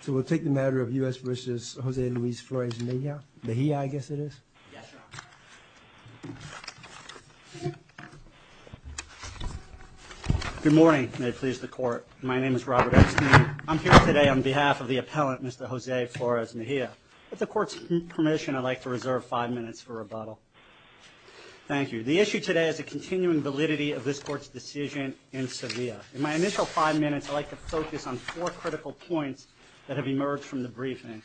So we'll take the matter of U.S. v. José Luis Flores-Mejia. Mejia, I guess it is. Yes, Your Honor. Good morning. May it please the Court. My name is Robert Epstein. I'm here today on behalf of the appellant, Mr. José Flores-Mejia. With the Court's permission, I'd like to reserve five minutes for rebuttal. Thank you. The issue today is the continuing validity of this Court's decision In my initial five minutes, I'd like to focus on four critical points that have emerged from the briefing.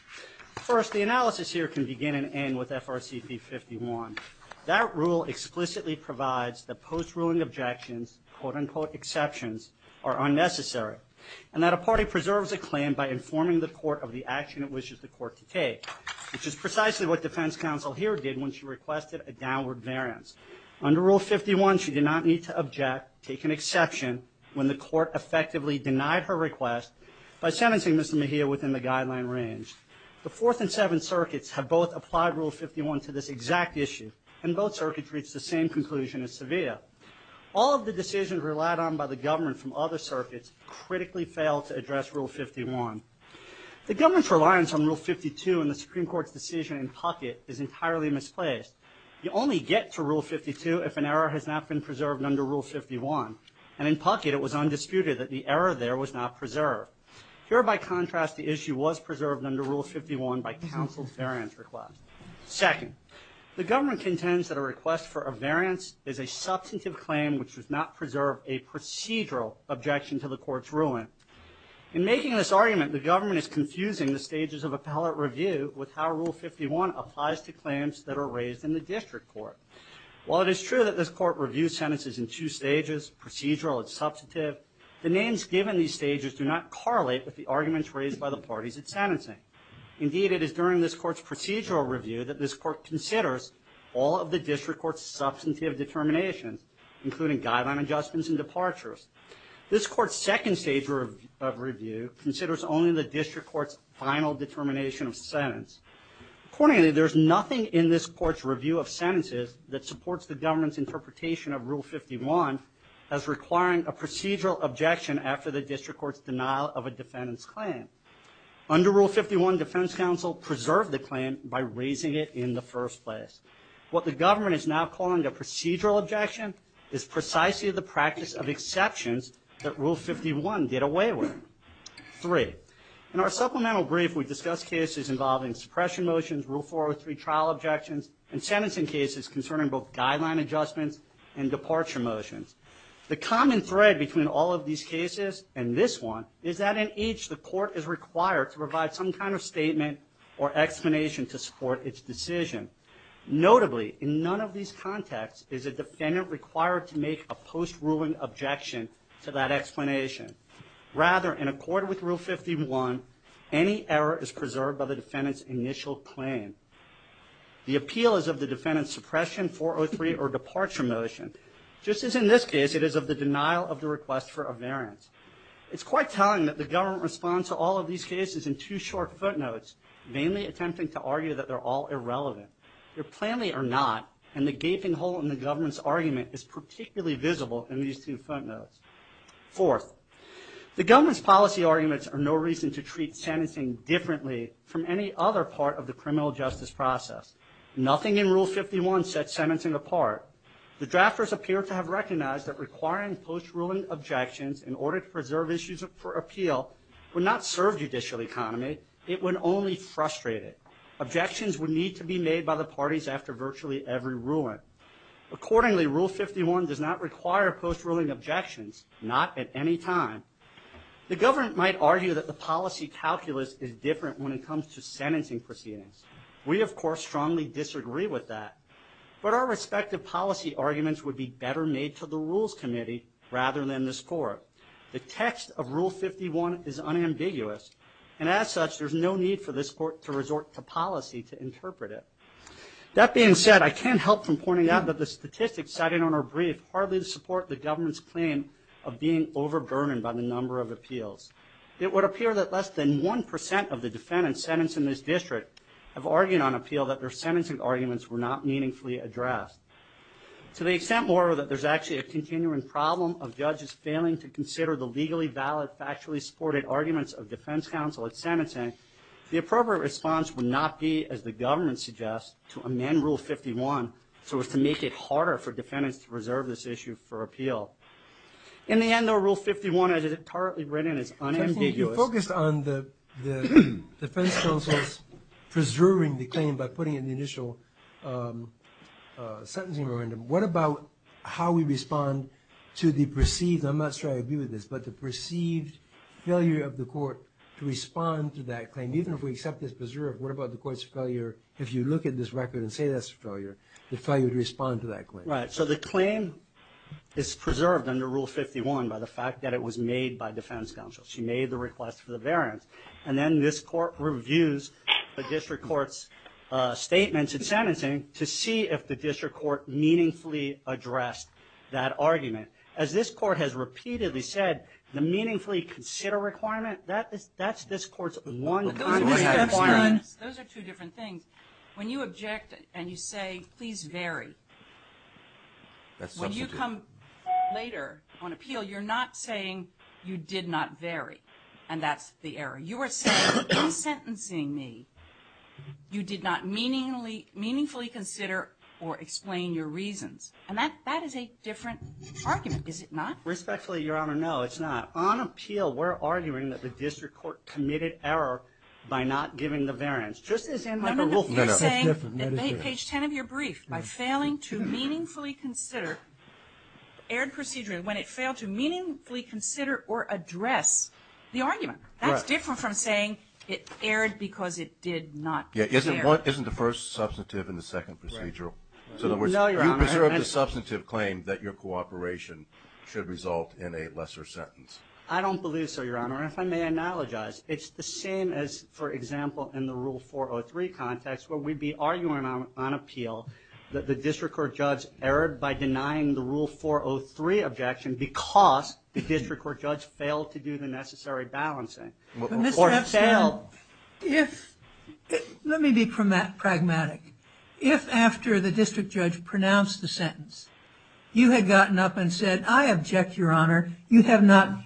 First, the analysis here can begin and end with FRCP 51. That rule explicitly provides that post-ruling objections, quote-unquote exceptions, are unnecessary, and that a party preserves a claim by informing the Court of the action it wishes the Court to take, which is precisely what defense counsel here did when she requested a downward variance. Under Rule 51, she did not need to object, take an exception, when the Court effectively denied her request by sentencing Mr. Mejia within the guideline range. The Fourth and Seventh Circuits have both applied Rule 51 to this exact issue, and both circuits reached the same conclusion as Sevilla. All of the decisions relied on by the government from other circuits critically failed to address Rule 51. The government's reliance on Rule 52 in the Supreme Court's decision in Puckett is entirely misplaced. You only get to Rule 52 if an error has not been preserved under Rule 51, and in Puckett it was undisputed that the error there was not preserved. Here, by contrast, the issue was preserved under Rule 51 by counsel's variance request. Second, the government contends that a request for a variance is a substantive claim which does not preserve a procedural objection to the Court's ruling. In making this argument, the government is confusing the stages of appellate review with how Rule 51 applies to claims that are raised in the District Court. While it is true that this Court reviews sentences in two stages, procedural and substantive, the names given these stages do not correlate with the arguments raised by the parties it's sentencing. Indeed, it is during this Court's procedural review that this Court considers all of the District Court's substantive determinations, including guideline adjustments and departures. This Court's second stage of review considers only the District Court's final determination of sentence. Accordingly, there's nothing in this Court's review of sentences that supports the government's interpretation of Rule 51 as requiring a procedural objection after the District Court's denial of a defendant's claim. Under Rule 51, defense counsel preserved the claim by raising it in the first place. What the government is now calling a procedural objection is precisely the practice of exceptions that Rule 51 did away with. Three, in our supplemental brief, we discussed cases involving suppression motions, Rule 403 trial objections, and sentencing cases concerning both guideline adjustments and departure motions. The common thread between all of these cases and this one is that in each, the Court is required to provide some kind of statement or explanation to support its decision. Notably, in none of these contexts is a defendant required to make a post-ruling objection to that explanation. Rather, in accord with Rule 51, any error is preserved by the defendant's initial claim. The appeal is of the defendant's suppression, 403, or departure motion. Just as in this case, it is of the denial of the request for a variance. It's quite telling that the government responds to all of these cases in two short footnotes, mainly attempting to argue that they're all irrelevant. They're plainly are not, and the gaping hole in the government's argument is particularly visible in these two footnotes. Fourth, the differently from any other part of the criminal justice process. Nothing in Rule 51 sets sentencing apart. The drafters appear to have recognized that requiring post-ruling objections in order to preserve issues for appeal would not serve judicial economy. It would only frustrate it. Objections would need to be made by the parties after virtually every ruling. Accordingly, Rule 51 does not require post-ruling objections, not at any time. The government might argue that the policy calculus is different when it comes to sentencing proceedings. We, of course, strongly disagree with that, but our respective policy arguments would be better made to the rules committee rather than this court. The text of Rule 51 is unambiguous, and as such, there's no need for this court to resort to policy to interpret it. That being said, I can't help from pointing out that the statistics cited on our brief hardly support the government's claim of being overburdened by the number of appeals. It would appear that less than 1% of the defendants sentenced in this district have argued on appeal that their sentencing arguments were not meaningfully addressed. To the extent, moreover, that there's actually a continuing problem of judges failing to consider the legally valid, factually supported arguments of defense counsel at sentencing, the appropriate response would not be, as the government suggests, to amend Rule 51 so as to make it harder for defendants to preserve this issue for appeal. In the end, though, Rule 51, as it is currently written, is unambiguous. You focused on the defense counsel's preserving the claim by putting in the initial sentencing memorandum. What about how we respond to the perceived, I'm not sure I agree with this, but the perceived failure of the court to respond to that claim? Even if we accept this preserve, what about the court's failure, if you look at this record and say that's a failure, the failure to respond to that claim? The claim is preserved under Rule 51 by the fact that it was made by defense counsel. She made the request for the variance. Then this court reviews the district court's statements at sentencing to see if the district court meaningfully addressed that argument. As this court has repeatedly said, the meaningfully consider requirement, that's this court's one requirement. Those are two different things. When you object and you say, please vary, when you come later on appeal, you're not saying you did not vary, and that's the error. You are saying in sentencing me, you did not meaningfully consider or explain your reasons, and that is a different argument, is it not? Respectfully, Your Honor, no, it's not. On appeal, we're arguing that the district court committed error by not giving the variance, just as in the rule. You're saying, page 10 of your brief, by failing to meaningfully consider, erred procedure when it failed to meaningfully consider or address the argument. That's different from saying it erred because it did not. Yeah, isn't the first substantive and the second procedural? So in other words, you preserve the substantive claim that your cooperation should result in a lesser sentence. I don't believe so, Your Honor. If I may analogize, it's the same as, for example, in the rule 403 context, where we'd be arguing on appeal that the district court judge erred by denying the rule 403 objection because the district court judge failed to do the necessary balancing or failed. Let me be pragmatic. If after the district judge pronounced the sentence, you had gotten up and said, I object, Your Honor. You have not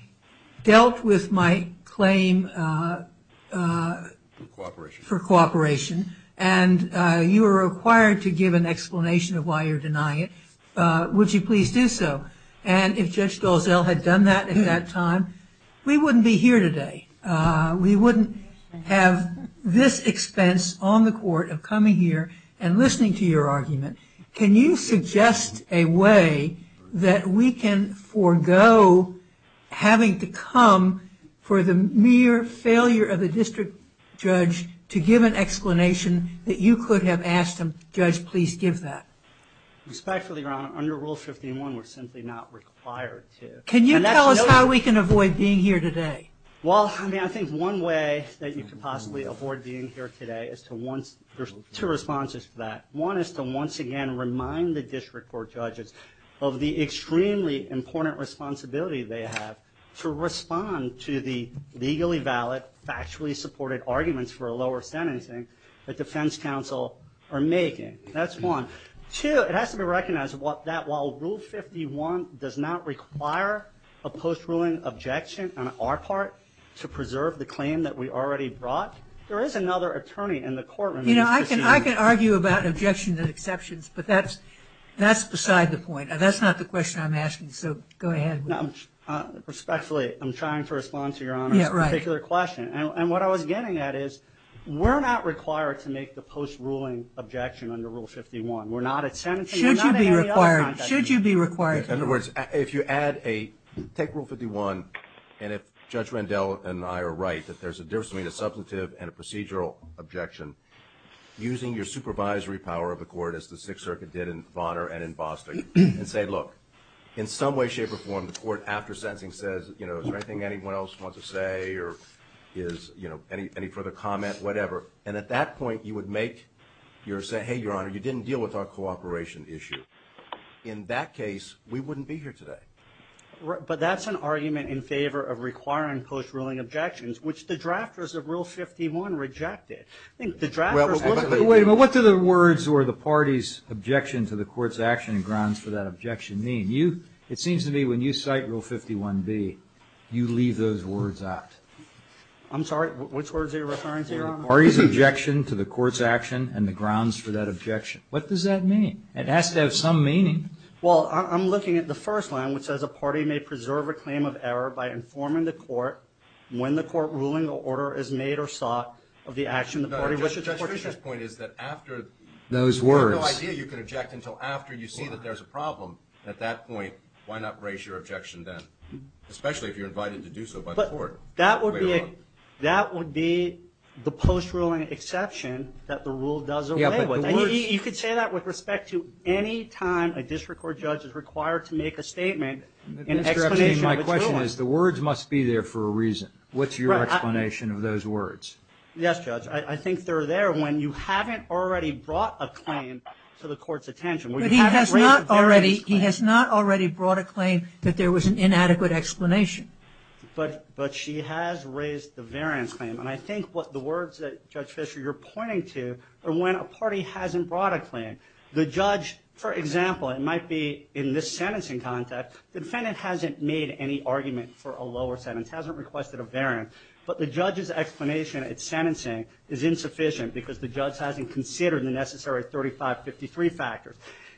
dealt with my claim. For cooperation. For cooperation. And you are required to give an explanation of why you're denying it. Would you please do so? And if Judge Dalziel had done that at that time, we wouldn't be here today. We wouldn't have this expense on the court of coming here and listening to your argument. Can you suggest a way that we can forego having to come for the mere failure of the district judge to give an explanation that you could have asked him, Judge, please give that? Respectfully, Your Honor, under Rule 51, we're simply not required to. Can you tell us how we can avoid being here today? Well, I mean, I think one way that you could possibly avoid being here today is to once there's two responses to that. One is to once again remind the district court judges of the extremely important responsibility they have to respond to the legally valid, factually supported arguments for a lower sentencing that defense counsel are making. That's one. Two, it has to be recognized that while Rule 51 does not require a post-ruling objection on our part to preserve the claim that we already brought, there is another attorney in the courtroom. I can argue about objections and exceptions, but that's beside the point. That's not the question I'm asking, so go ahead. Respectfully, I'm trying to respond to Your Honor's particular question. And what I was getting at is we're not required to make the post-ruling objection under Rule 51. We're not at sentencing. Should you be required? Should you be required? In other words, if you add a, take Rule 51, and if Judge Randell and I are right, that there's a difference between a substantive and a procedural objection, using your supervisory power of the court, as the Sixth Circuit did in Bonner and in Boston, and say, look, in some way, shape, or form, the court after sentencing says, you know, is there anything anyone else wants to say, or is, you know, any further comment, whatever. And at that point, you would make your, say, hey, Your Honor, you didn't deal with our cooperation issue. In that case, we wouldn't be here today. But that's an argument in favor of requiring post-ruling objections, which the drafters of Rule 51 rejected. I think the drafters... Wait a minute. What do the words, or the party's objection to the court's action and grounds for that objection mean? You, it seems to me, when you cite Rule 51b, you leave those words out. I'm sorry, which words are you referring to, Your Honor? Party's objection to the court's action and the grounds for that objection. What does that mean? It has to have some meaning. Well, I'm looking at the first line, which says, a party may preserve a claim of error by informing the court when the court ruling or order is made or sought of the action of the party... No, Judge Fischer's point is that after... Those words. You have no idea you can object until after you see that there's a problem. At that point, why not raise your objection then, especially if you're invited to do so by the court? That would be the post-ruling exception that the rule does away with. Yeah, but the words... You could say that with respect to any time a district court judge is required to make a statement... Mr. Epstein, my question is, the words must be there for a reason. What's your explanation of those words? Yes, Judge. I think they're there when you haven't already brought a claim to the court's attention. But he has not already... He has not already brought a claim that there was an inadequate explanation. But she has raised the variance claim. And I think what the words that, Judge Fischer, you're pointing to are when a party hasn't brought a claim. The judge, for example, it might be in this sentencing context, the defendant hasn't made any argument for a lower sentence, hasn't requested a variance. But the judge's explanation at sentencing is insufficient because the judge hasn't considered the necessary 3553 factors.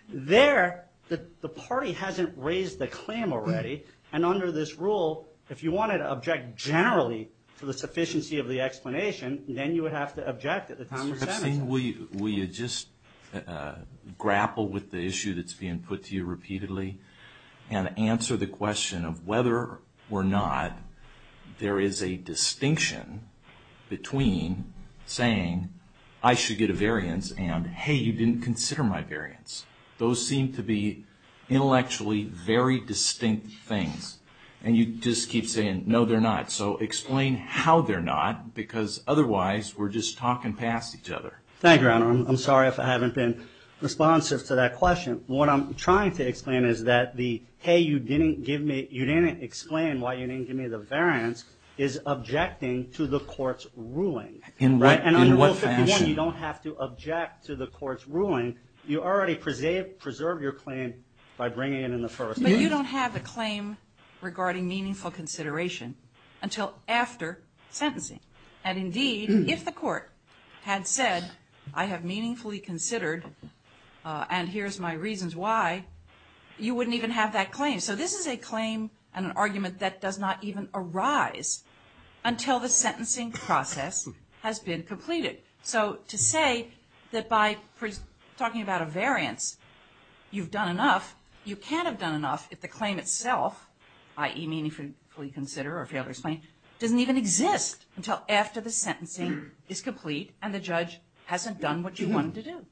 There, the party hasn't raised the claim already. And under this rule, if you wanted to object generally to the sufficiency of the explanation, then you would have to object at the time of sentencing. Mr. Epstein, will you just grapple with the issue that's being put to you repeatedly and answer the question of whether or not there is a distinction between saying, I should get a variance and, hey, you didn't consider my variance. Those seem to be intellectually very distinct things. And you just keep saying, no, they're not. So explain how they're not. Because otherwise, we're just talking past each other. Thank you, Your Honor. I'm sorry if I haven't been responsive to that question. What I'm trying to explain is that the, hey, you didn't give me, you didn't explain why you didn't give me the variance, is objecting to the court's ruling. In what fashion? You don't have to object to the court's ruling. You already preserve your claim by bringing it in the first. But you don't have a claim regarding meaningful consideration until after sentencing. And indeed, if the court had said, I have meaningfully considered, and here's my reasons why, you wouldn't even have that claim. So this is a claim and an argument that does not even arise until the sentencing process has been completed. So to say that by talking about a variance, you've done enough, you can't have done enough if the claim itself, i.e. meaningfully consider or fail to explain, doesn't even exist until after the sentencing is complete and the judge hasn't done what you wanted to do.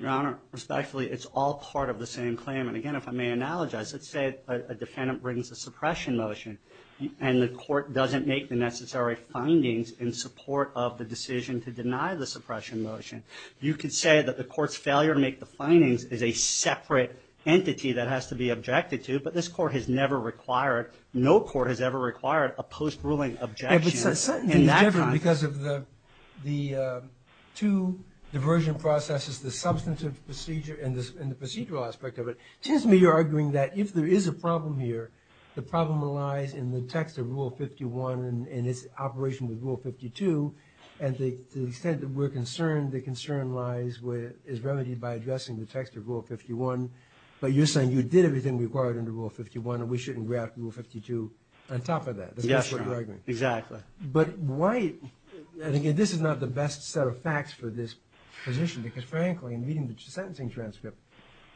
Your Honor, respectfully, it's all part of the same claim. And again, if I may analogize, let's say a defendant brings a suppression motion and the court doesn't make the necessary findings in support of the decision to deny the suppression motion, you could say that the court's failure to make the findings is a separate entity that has to be objected to. But this court has never required, no court has ever required, a post-ruling objection in that context. It certainly is different because of the two diversion processes, the substantive procedure and the procedural aspect of it. It seems to me you're arguing that if there is a problem here, the problem lies in the text of Rule 51 and its operation with Rule 52. And to the extent that we're concerned, the concern lies where it is remedied by addressing the text of Rule 51. But you're saying you did everything required under Rule 51 and we shouldn't graft Rule 52 on top of that. Yes, Your Honor. Exactly. But why, and again, this is not the best set of facts for this position because frankly, reading the sentencing transcript,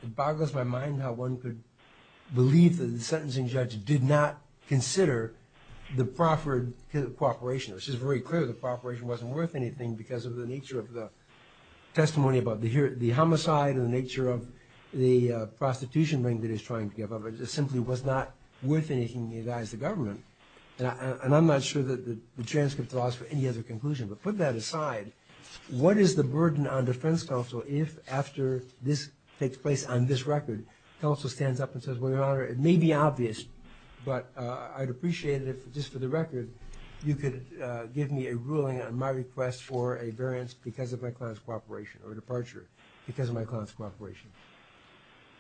it boggles my mind how one could believe that the sentencing judge did not consider the proffered cooperation, which is very clear the cooperation wasn't worth anything because of the nature of the testimony about the homicide and the nature of the prostitution ring that he's trying to give up. It simply was not worth anything to the government. And I'm not sure that the transcript allows for any other conclusion. But put that aside, what is the burden on defense counsel if after this takes place on this record, counsel stands up and says, well, Your Honor, it may be obvious, but I'd appreciate it if just for the record, you could give me a ruling on my request for a variance because of my client's cooperation or departure because of my client's cooperation.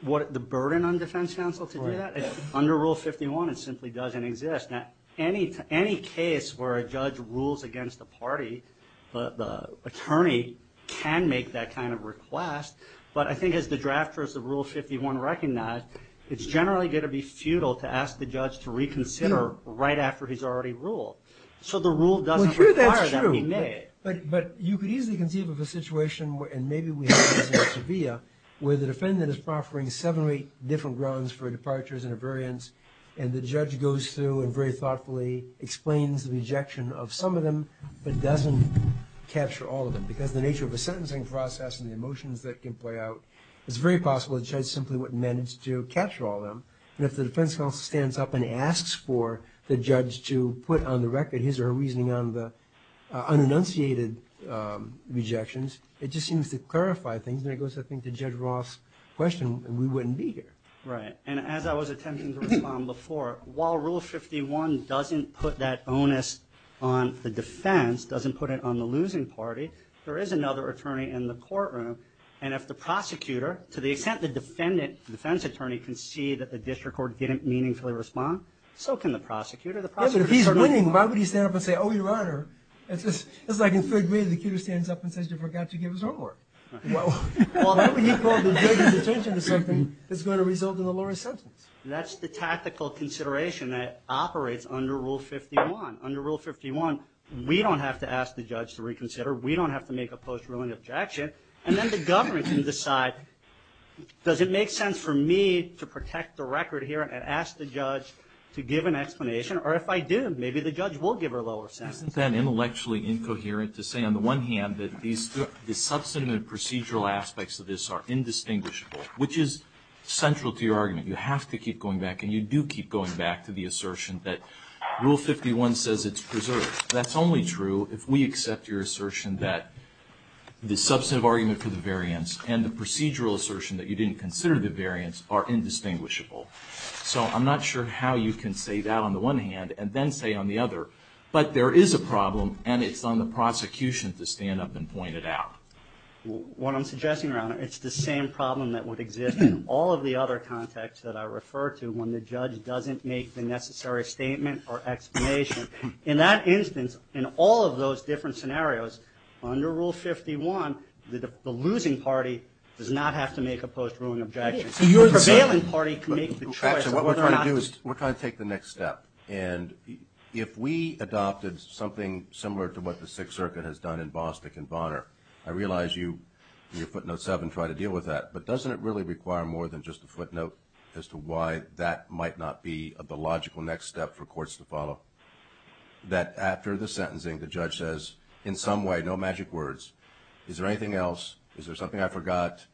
The burden on defense counsel to do that? Under Rule 51, it simply doesn't exist. Now, any case where a judge rules against the party, the attorney can make that kind of request. But I think as the drafters of Rule 51 recognize, it's generally going to be futile to ask the judge to reconsider right after he's already ruled. So the rule doesn't require that he may. But you could easily conceive of a situation, and maybe we have this in Sevilla, where the defendant is proffering seven or eight different grounds for departures and a variance, and the judge goes through and very thoughtfully explains the rejection of some of them, but doesn't capture all of them. Because the nature of a sentencing process and the emotions that can play out, it's very possible the judge simply wouldn't manage to capture all of them. And if the defense counsel stands up and asks for the judge to put on the record his or her reasoning on the unannunciated rejections, it just seems to clarify things. And it goes, I think, to Judge Roth's question, and we wouldn't be here. Right. And as I was attempting to respond before, while Rule 51 doesn't put that onus on the defense, doesn't put it on the losing party, there is another attorney in the courtroom. And if the prosecutor, to the extent the defendant, the defense attorney, can see that the district court didn't meaningfully respond, so can the prosecutor. Yeah, but if he's winning, why would he stand up and say, oh, your honor, it's just like in third grade, the kid who stands up and says you forgot to give his report. Well, why would he call the judge's attention to something that's going to result in a lower sentence? That's the tactical consideration that operates under Rule 51. Under Rule 51, we don't have to ask the judge to reconsider. We don't have to make a post-ruling objection. And then the government can decide, does it make sense for me to protect the record here and ask the judge to give an explanation? Or if I do, maybe the judge will give her a lower sentence. Isn't that intellectually incoherent to say on the one hand that the substantive and procedural aspects of this are indistinguishable, which is central to your argument. You have to keep going back, and you do keep going back to the assertion that Rule 51 says it's preserved. That's only true if we accept your assertion that the substantive argument for the variance and the procedural assertion that you didn't consider the variance are indistinguishable. So I'm not sure how you can say that on the one hand and then say on the other. But there is a problem, and it's on the prosecution to stand up and point it out. What I'm suggesting, Your Honor, it's the same problem that would exist in all of the other contexts that I refer to when the judge doesn't make the necessary statement or explanation. In that instance, in all of those different scenarios, under Rule 51, the losing party does not have to make a post-ruling objection. The prevailing party can make the choice of whether or not to. We're trying to take the next step. And if we adopted something similar to what the Sixth Circuit has done in Bostick and Bonner, I realize you, in your footnote 7, try to deal with that. But doesn't it really require more than just a footnote as to why that might not be the logical next step for courts to follow? That after the sentencing, the judge says, in some way, no magic words, is there anything else? Is there something I forgot?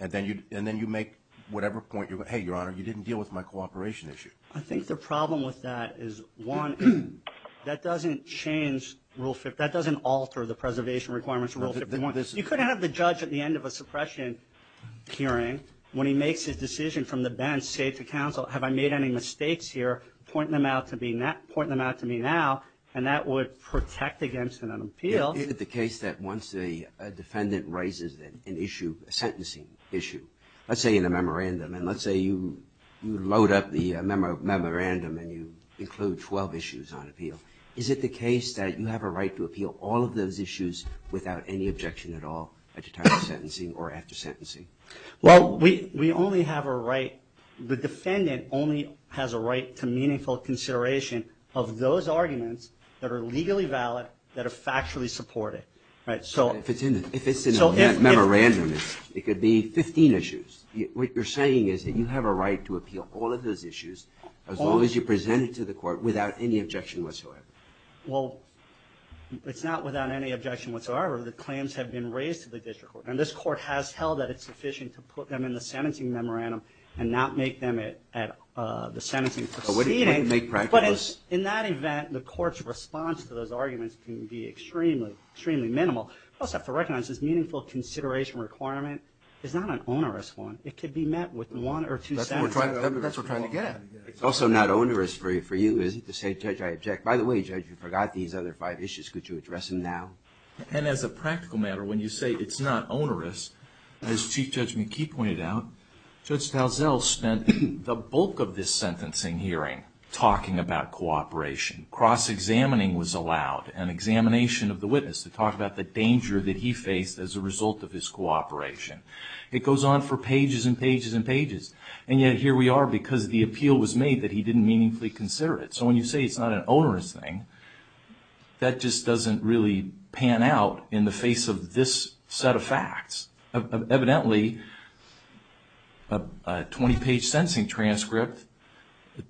And then you make whatever point you want. Hey, Your Honor, you didn't deal with my cooperation issue. I think the problem with that is, one, that doesn't change Rule 51. That doesn't alter the preservation requirements of Rule 51. You couldn't have the judge at the end of a suppression hearing, when he makes his decision from the bench, say to counsel, have I made any mistakes here, point them out to me now. And that would protect against an appeal. Is it the case that once a defendant raises an issue, a sentencing issue, let's say in a memorandum, and let's say you load up the memorandum and you include 12 issues on appeal, is it the case that you have a right to appeal all of those issues without any objection at all at the time of sentencing or after sentencing? Well, we only have a right, the defendant only has a right to meaningful consideration of those arguments that are legally valid, that are factually supported. If it's in a memorandum, it could be 15 issues. What you're saying is that you have a right to appeal all of those issues as long as you present it to the court without any objection whatsoever. Well, it's not without any objection whatsoever. The claims have been raised to the district court. And this court has held that it's sufficient to at the sentencing proceeding. But in that event, the court's response to those arguments can be extremely, extremely minimal. We also have to recognize this meaningful consideration requirement is not an onerous one. It could be met with one or two sentences. That's what we're trying to get at. It's also not onerous for you, is it, to say, Judge, I object. By the way, Judge, you forgot these other five issues. Could you address them now? And as a practical matter, when you say it's not onerous, as Chief Judge McKee pointed out, Judge Talzell spent the bulk of this sentencing hearing talking about cooperation. Cross-examining was allowed, an examination of the witness to talk about the danger that he faced as a result of his cooperation. It goes on for pages and pages and pages. And yet here we are because the appeal was made that he didn't meaningfully consider it. So when you say it's not an onerous thing, that just doesn't really pan out in the face of this set of facts. Evidently, a 20-page sentencing transcript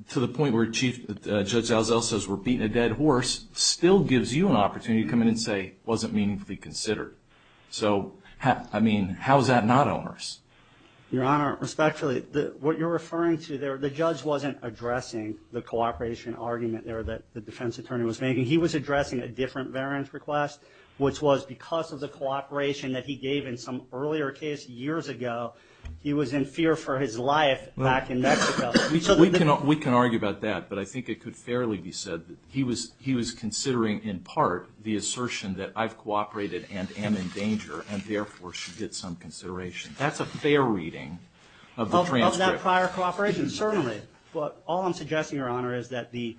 to the point where Chief Judge Talzell says we're beating a dead horse still gives you an opportunity to come in and say it wasn't meaningfully considered. So, I mean, how is that not onerous? Your Honor, respectfully, what you're referring to there, the judge wasn't addressing the cooperation argument there that the defense attorney was making. He was addressing a different variance request, which was because of the fear for his life back in Mexico. We can argue about that, but I think it could fairly be said that he was considering, in part, the assertion that I've cooperated and am in danger, and therefore should get some consideration. That's a fair reading of the transcript. Of that prior cooperation, certainly. But all I'm suggesting, Your Honor, is that the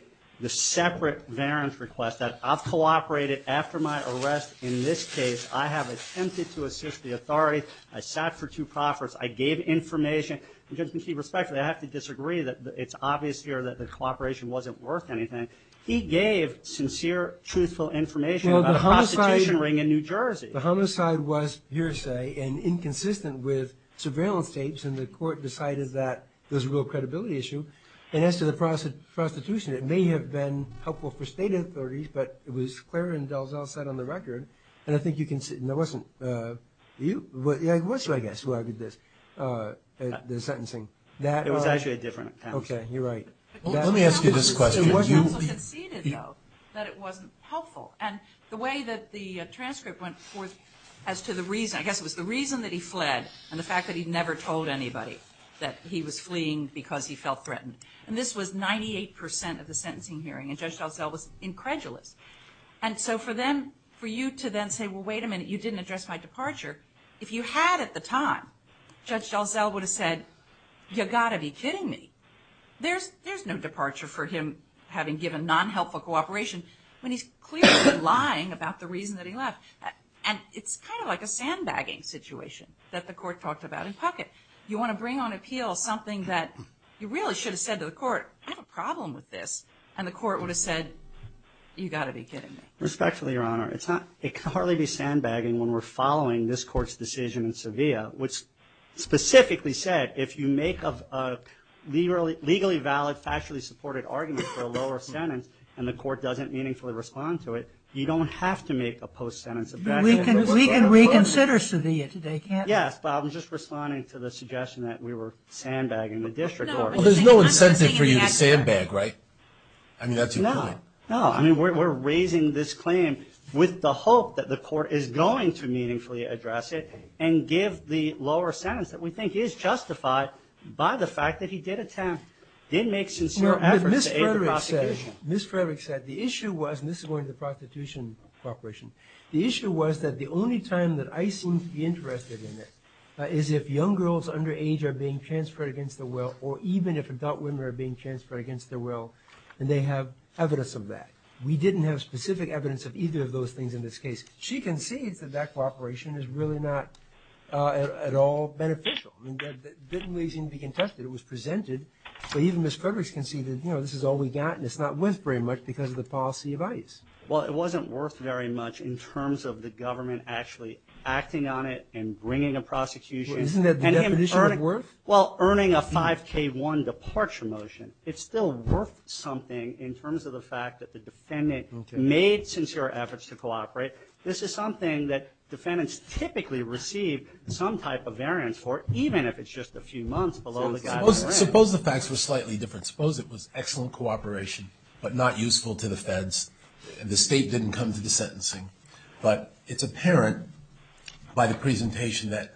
separate variance request that I've cooperated after my arrest in this case, I have attempted to assist the authorities, I sat for two proffers, I gave information, and just to be respectful, I have to disagree that it's obvious here that the cooperation wasn't worth anything. He gave sincere, truthful information about a prostitution ring in New Jersey. The homicide was hearsay and inconsistent with surveillance tapes, and the court decided that there was a real credibility issue. And as to the prostitution, it may have been helpful for state authorities, but it was clear and Talzell said on the record, and I think you conceded, it wasn't you, it was you, I guess, who argued this, the sentencing. It was actually a different counsel. Okay, you're right. Let me ask you this question. The counsel conceded, though, that it wasn't helpful. And the way that the transcript went forth as to the reason, I guess it was the reason that he fled, and the fact that he'd never told anybody that he was fleeing because he felt threatened. And this was 98% of the sentencing hearing, and Judge Talzell was incredulous. And so for you to then say, well, wait a minute, you didn't address my departure. If you had at the time, Judge Talzell would have said, you've got to be kidding me. There's no departure for him having given non-helpful cooperation when he's clearly been lying about the reason that he left. And it's kind of like a sandbagging situation that the court talked about in Puckett. You want to bring on appeal something that you really should have said to the court, I have a problem with this. And the court would have said, you've got to be kidding me. Respectfully, Your Honor, it can hardly be sandbagging when we're following this court's decision in Sevilla, which specifically said, if you make a legally valid, factually supported argument for a lower sentence, and the court doesn't meaningfully respond to it, you don't have to make a post-sentence objection. We can reconsider Sevilla today, can't we? Yes, but I'm just responding to the suggestion that we were sandbagging the district court. There's no incentive for you to sandbag, right? I mean, that's your point. No, I mean, we're raising this claim with the hope that the court is going to meaningfully address it and give the lower sentence that we think is justified by the fact that he did attempt, did make sincere efforts to aid the prosecution. Ms. Frederick said, the issue was, and this is going to the prosecution corporation, the issue was that the only time that I seem to be interested in it is if young girls under age are being transferred against their will or even if adult women are being transferred against their will and they have evidence of that. We didn't have specific evidence of either of those things in this case. She concedes that that cooperation is really not at all beneficial. I mean, that didn't really seem to be contested. It was presented. So even Ms. Frederick's conceded, you know, this is all we got and it's not worth very much because of the policy of ICE. Well, it wasn't worth very much in terms of the government actually acting on it and bringing a Well, earning a 5K1 departure motion, it's still worth something in terms of the fact that the defendant made sincere efforts to cooperate. This is something that defendants typically receive some type of variance for, even if it's just a few months below the guidance. Suppose the facts were slightly different. Suppose it was excellent cooperation, but not useful to the feds and the state didn't come to the sentencing, but it's apparent by the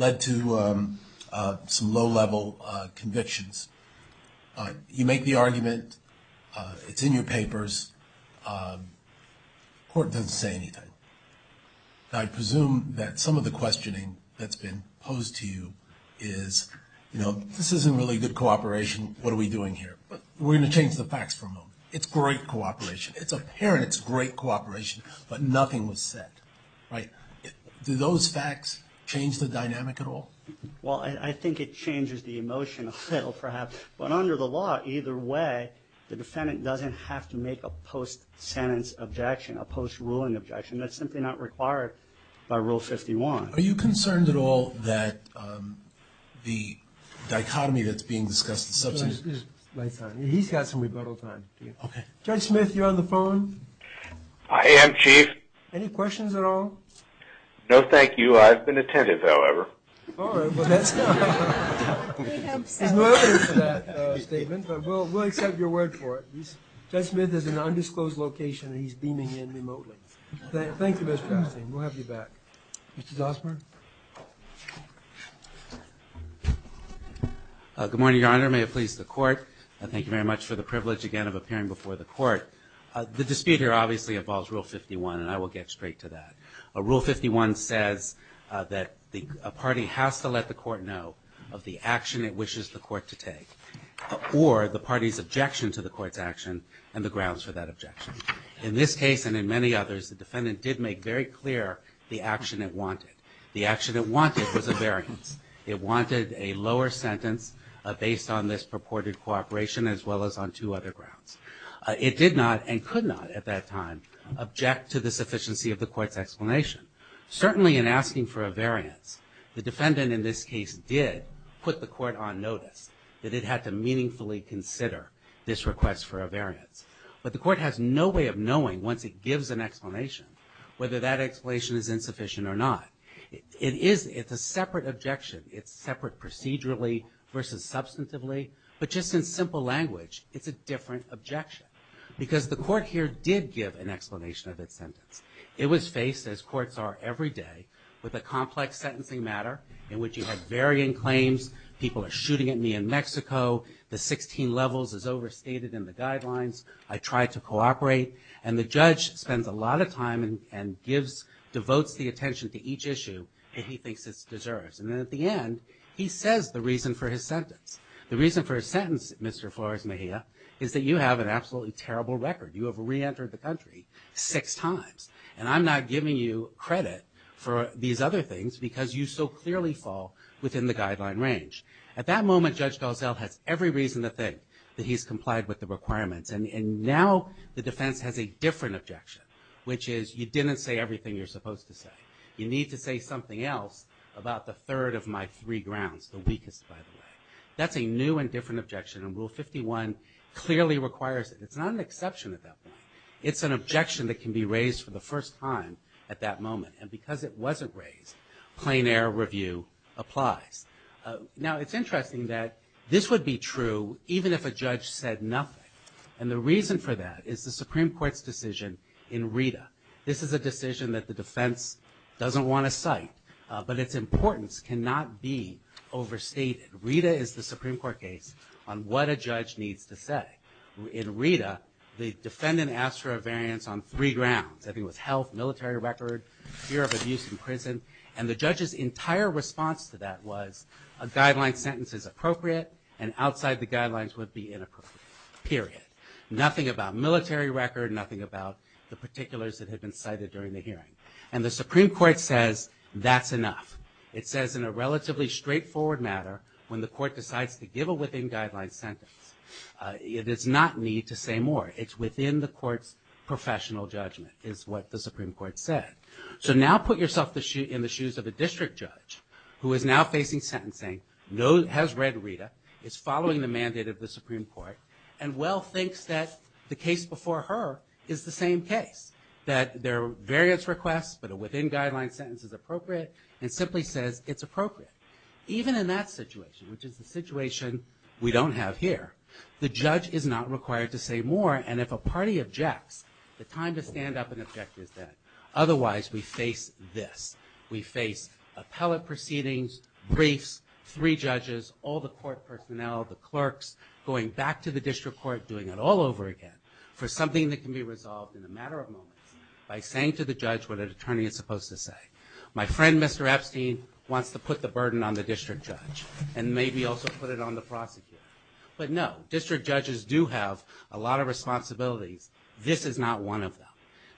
led to some low-level convictions. You make the argument, it's in your papers, court doesn't say anything. I presume that some of the questioning that's been posed to you is, you know, this isn't really good cooperation. What are we doing here? We're going to change the facts for a moment. It's great cooperation. It's apparent it's great cooperation, but nothing was said, right? Do those facts change the dynamic at all? Well, I think it changes the emotion a little, perhaps. But under the law, either way, the defendant doesn't have to make a post-sentence objection, a post-ruling objection. That's simply not required by Rule 51. Are you concerned at all that the dichotomy that's being discussed... He's got some rebuttal time. Judge Smith, you're on the phone. I am, Chief. Any questions at all? No, thank you. I've been attentive, however. All right. Well, that's no evidence of that statement, but we'll accept your word for it. Judge Smith is in an undisclosed location and he's beaming in remotely. Thank you, Mr. Bernstein. We'll have you back. Mr. Zossmer. Good morning, Your Honor. May it please the court. Thank you very much for the privilege, again, of appearing before the court. The dispute here obviously involves Rule 51, and I will get straight to that. Rule 51 says that a party has to let the court know of the action it wishes the court to take or the party's objection to the court's action and the grounds for that objection. In this case and in many others, the defendant did make very clear the action it wanted. The action it wanted was a variance. It wanted a lower sentence based on this purported cooperation as well as on two other grounds. It did not and could not at that time object to the sufficiency of the court's explanation. Certainly in asking for a variance, the defendant in this case did put the court on notice that it had to meaningfully consider this request for a variance. But the court has no way of knowing, once it gives an explanation, whether that explanation is insufficient or not. It is. It's a separate objection. It's separate procedurally versus substantively. But just in simple language, it's a different objection because the court here did give an explanation of its sentence. It was faced, as courts are every day, with a complex sentencing matter in which you have varying claims. People are shooting at me in Mexico. The 16 levels is overstated in the guidelines. I tried to cooperate. And the judge spends a lot of time and gives, devotes the attention to each issue, and he thinks it deserves. And then at the end, he says the reason for his sentence. The reason for his sentence, Mr. Flores Mejia, is that you have an absolutely terrible record. You have reentered the country six times. And I'm not giving you credit for these other things because you so clearly fall within the guideline range. At that moment, Judge Gozal has every reason to think that he's complied with the requirements. And now the defense has a different objection, which is you didn't say everything you're supposed to say. You need to say something else about the third of my three grounds, the weakest, by the way. That's a new and different objection. And Rule 51 clearly requires it. It's not an exception at that point. It's an objection that can be raised for the first time at that moment. And because it wasn't raised, plain error review applies. Now, it's interesting that this would be true even if a judge said nothing. And the reason for that is the Supreme that the defense doesn't want to cite, but its importance cannot be overstated. RETA is the Supreme Court case on what a judge needs to say. In RETA, the defendant asked for a variance on three grounds. I think it was health, military record, fear of abuse in prison. And the judge's entire response to that was a guideline sentence is appropriate and outside the guidelines would be inappropriate, period. Nothing about military record, nothing about the particulars that had been cited during the hearing. And the Supreme Court says that's enough. It says in a relatively straightforward matter, when the court decides to give a within guidelines sentence, it does not need to say more. It's within the court's professional judgment, is what the Supreme Court said. So now put yourself in the shoes of a district judge who is now facing sentencing, has read RETA, is following the mandate of the Supreme Court, and well thinks that the case before her is the same case. That there are variance requests, but a within guidelines sentence is appropriate and simply says it's appropriate. Even in that situation, which is the situation we don't have here, the judge is not required to say more. And if a party objects, the time to stand up and object is dead. Otherwise, we face this. We face appellate proceedings, briefs, three judges, all the court personnel, the clerks, going back to the district court, doing it all over again for something that can be resolved in a matter of moments by saying to the judge what an attorney is supposed to say. My friend, Mr. Epstein, wants to put the burden on the district judge and maybe also put it on the prosecutor. But no, district judges do have a lot of responsibilities. This is not one of them.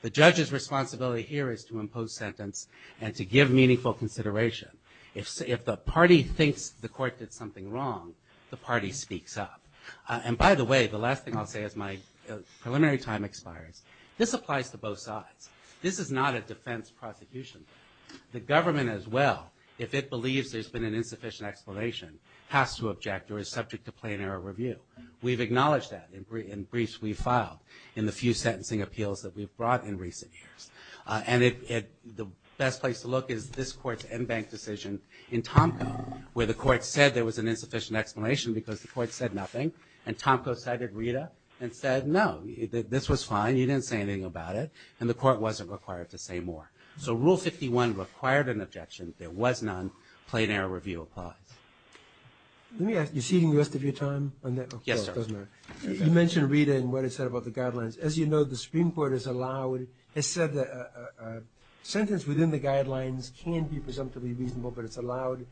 The judge's responsibility here is to impose sentence and to give meaningful consideration. If the party thinks the court did something wrong, the party sneaks up. And by the way, the last thing I'll say as my preliminary time expires, this applies to both sides. This is not a defense prosecution. The government as well, if it believes there's been an insufficient explanation, has to object or is subject to plain error review. We've acknowledged that in briefs we filed in the few sentencing appeals that we've brought in recent years. And the best place to look is this court's en banc decision in Tomko, where the court said there was an insufficient explanation because the court said nothing, and Tomko cited Rita and said no, this was fine, you didn't say anything about it, and the court wasn't required to say more. So Rule 51 required an objection. There was none. Plain error review applies. Let me ask, you're ceding the rest of your time? Yes, sir. You mentioned Rita and what it said about the guidelines. As you know, the Supreme Court has said that a sentence within the guidelines can be presumptively reasonable, but it's allowed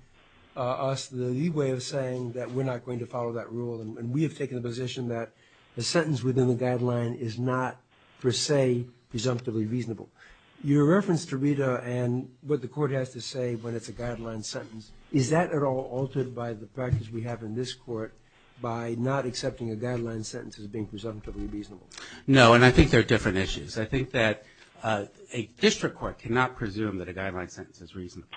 us the leeway of saying that we're not going to follow that rule and we have taken the position that a sentence within the guideline is not per se presumptively reasonable. Your reference to Rita and what the court has to say when it's a guideline sentence, is that at all altered by the practice we have in this court by not accepting a guideline sentence as being presumptively reasonable? No, and I think there are different issues. I think that a district court cannot presume that a guideline sentence is reasonable.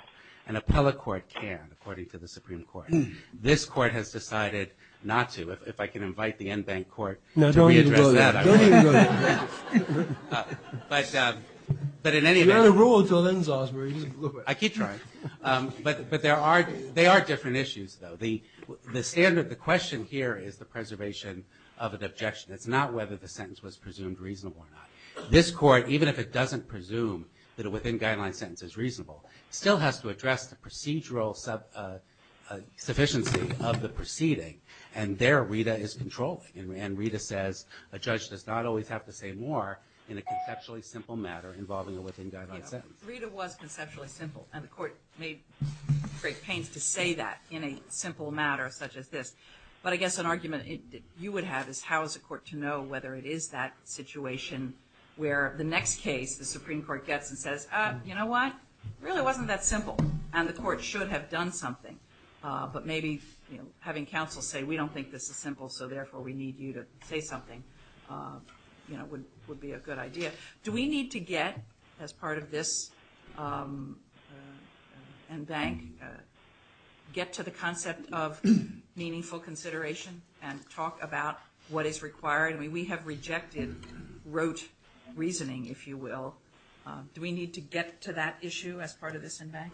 An appellate court can, according to the Supreme Court. This court has decided not to. If I can invite the Enbank court to re-address that. No, don't even go there. Don't even go there. But in any event... You only rule until then, Zosmar, you can do it. I keep trying. But there are different issues, though. The standard, the question here is the preservation of an objection. It's not whether the sentence was presumed reasonable or not. This court, even if it doesn't presume that a within-guideline sentence is reasonable, still has to address the procedural sufficiency of the proceeding and there Rita is controlling. And Rita says a judge does not always have to say more in a conceptually simple matter involving a within-guideline sentence. Rita was conceptually simple and the court made great pains to say that in a simple matter such as this. But I guess an argument you would have is how is the court to know whether it is that situation where the next case the Supreme Court gets and says, you know what, it really wasn't that simple and the court should have done something. But maybe having counsel say we don't think this is simple so therefore we need you to say something would be a good idea. Do we need to get, as part of this Enbank, get to the concept of meaningful consideration and talk about what is required? I mean we have rejected rote reasoning, if you will. Do we need to get to that issue as part of this Enbank?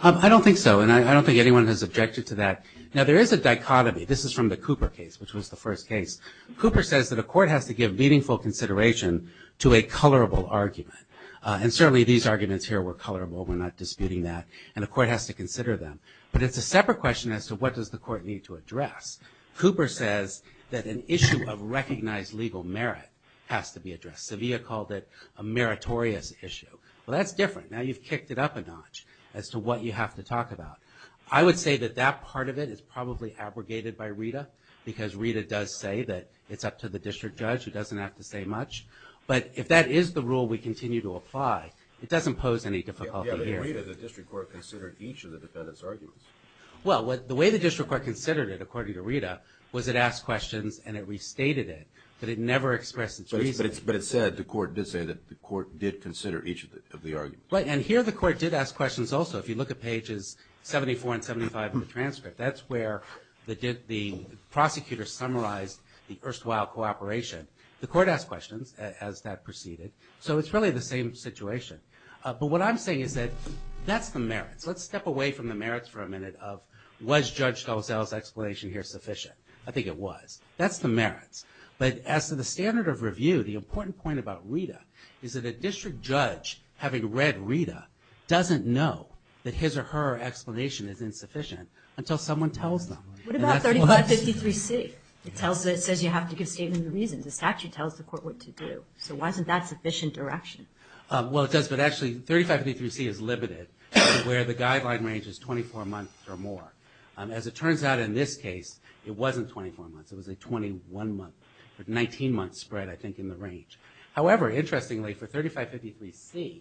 I don't think so and I don't think anyone has objected to that. Now there is a dichotomy. This is from the Cooper case, which was the first case. Cooper says that a court has to give meaningful consideration to a colorable argument. And certainly these arguments here were colorable, we're not disputing that, and the court has to consider them. But it's a separate question as to what does the court need to address. Cooper says that an issue of recognized legal merit has to be addressed. Sevilla called it a meritorious issue. Well that's different, now you've kicked it up a notch as to what you have to talk about. I would say that that part of it is probably abrogated by Rita because Rita does say that it's up to the district judge who doesn't have to say much. But if that is the rule we continue to apply, it doesn't pose any difficulty here. Yeah, but the way that the district court considered each of the defendant's Well, the way the district court considered it, according to Rita, was it asked questions and it restated it, but it never expressed its reasons. But it said, the court did say that the court did consider each of the arguments. Right, and here the court did ask questions also. If you look at pages 74 and 75 of the transcript, that's where the prosecutor summarized the erstwhile cooperation. The court asked questions as that proceeded. So it's really the same situation. But what I'm saying is that that's the merits. Let's step away from the merits for a minute of, was Judge Gozell's explanation here sufficient? I think it was. That's the merits. But as to the standard of review, the important point about Rita is that a district judge, having read Rita, doesn't know that his or her explanation is insufficient until someone tells them. What about 3553C? It says you have to give statement of reasons, the statute tells the court what to do. So why isn't that sufficient direction? Well it does, but actually 3553C is limited, where the guideline range is 24 months or more. As it turns out in this case, it wasn't 24 months, it was a 21 month, or 19 month spread I think in the range. However, interestingly for 3553C,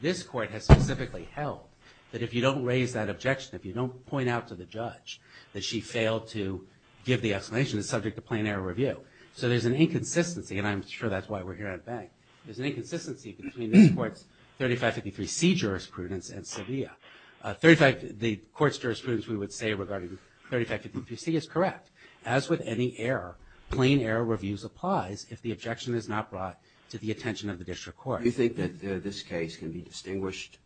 this court has specifically held that if you don't raise that objection, if you don't point out to the judge that she failed to give the explanation, it's subject to plain error review. So there's an inconsistency, and I'm sure that's why we're here at the bank. There's inconsistency between this court's 3553C jurisprudence and Sevilla. The court's jurisprudence we would say regarding 3553C is correct. As with any error, plain error reviews applies if the objection is not brought to the attention of the district court. Do you think that this case can be distinguished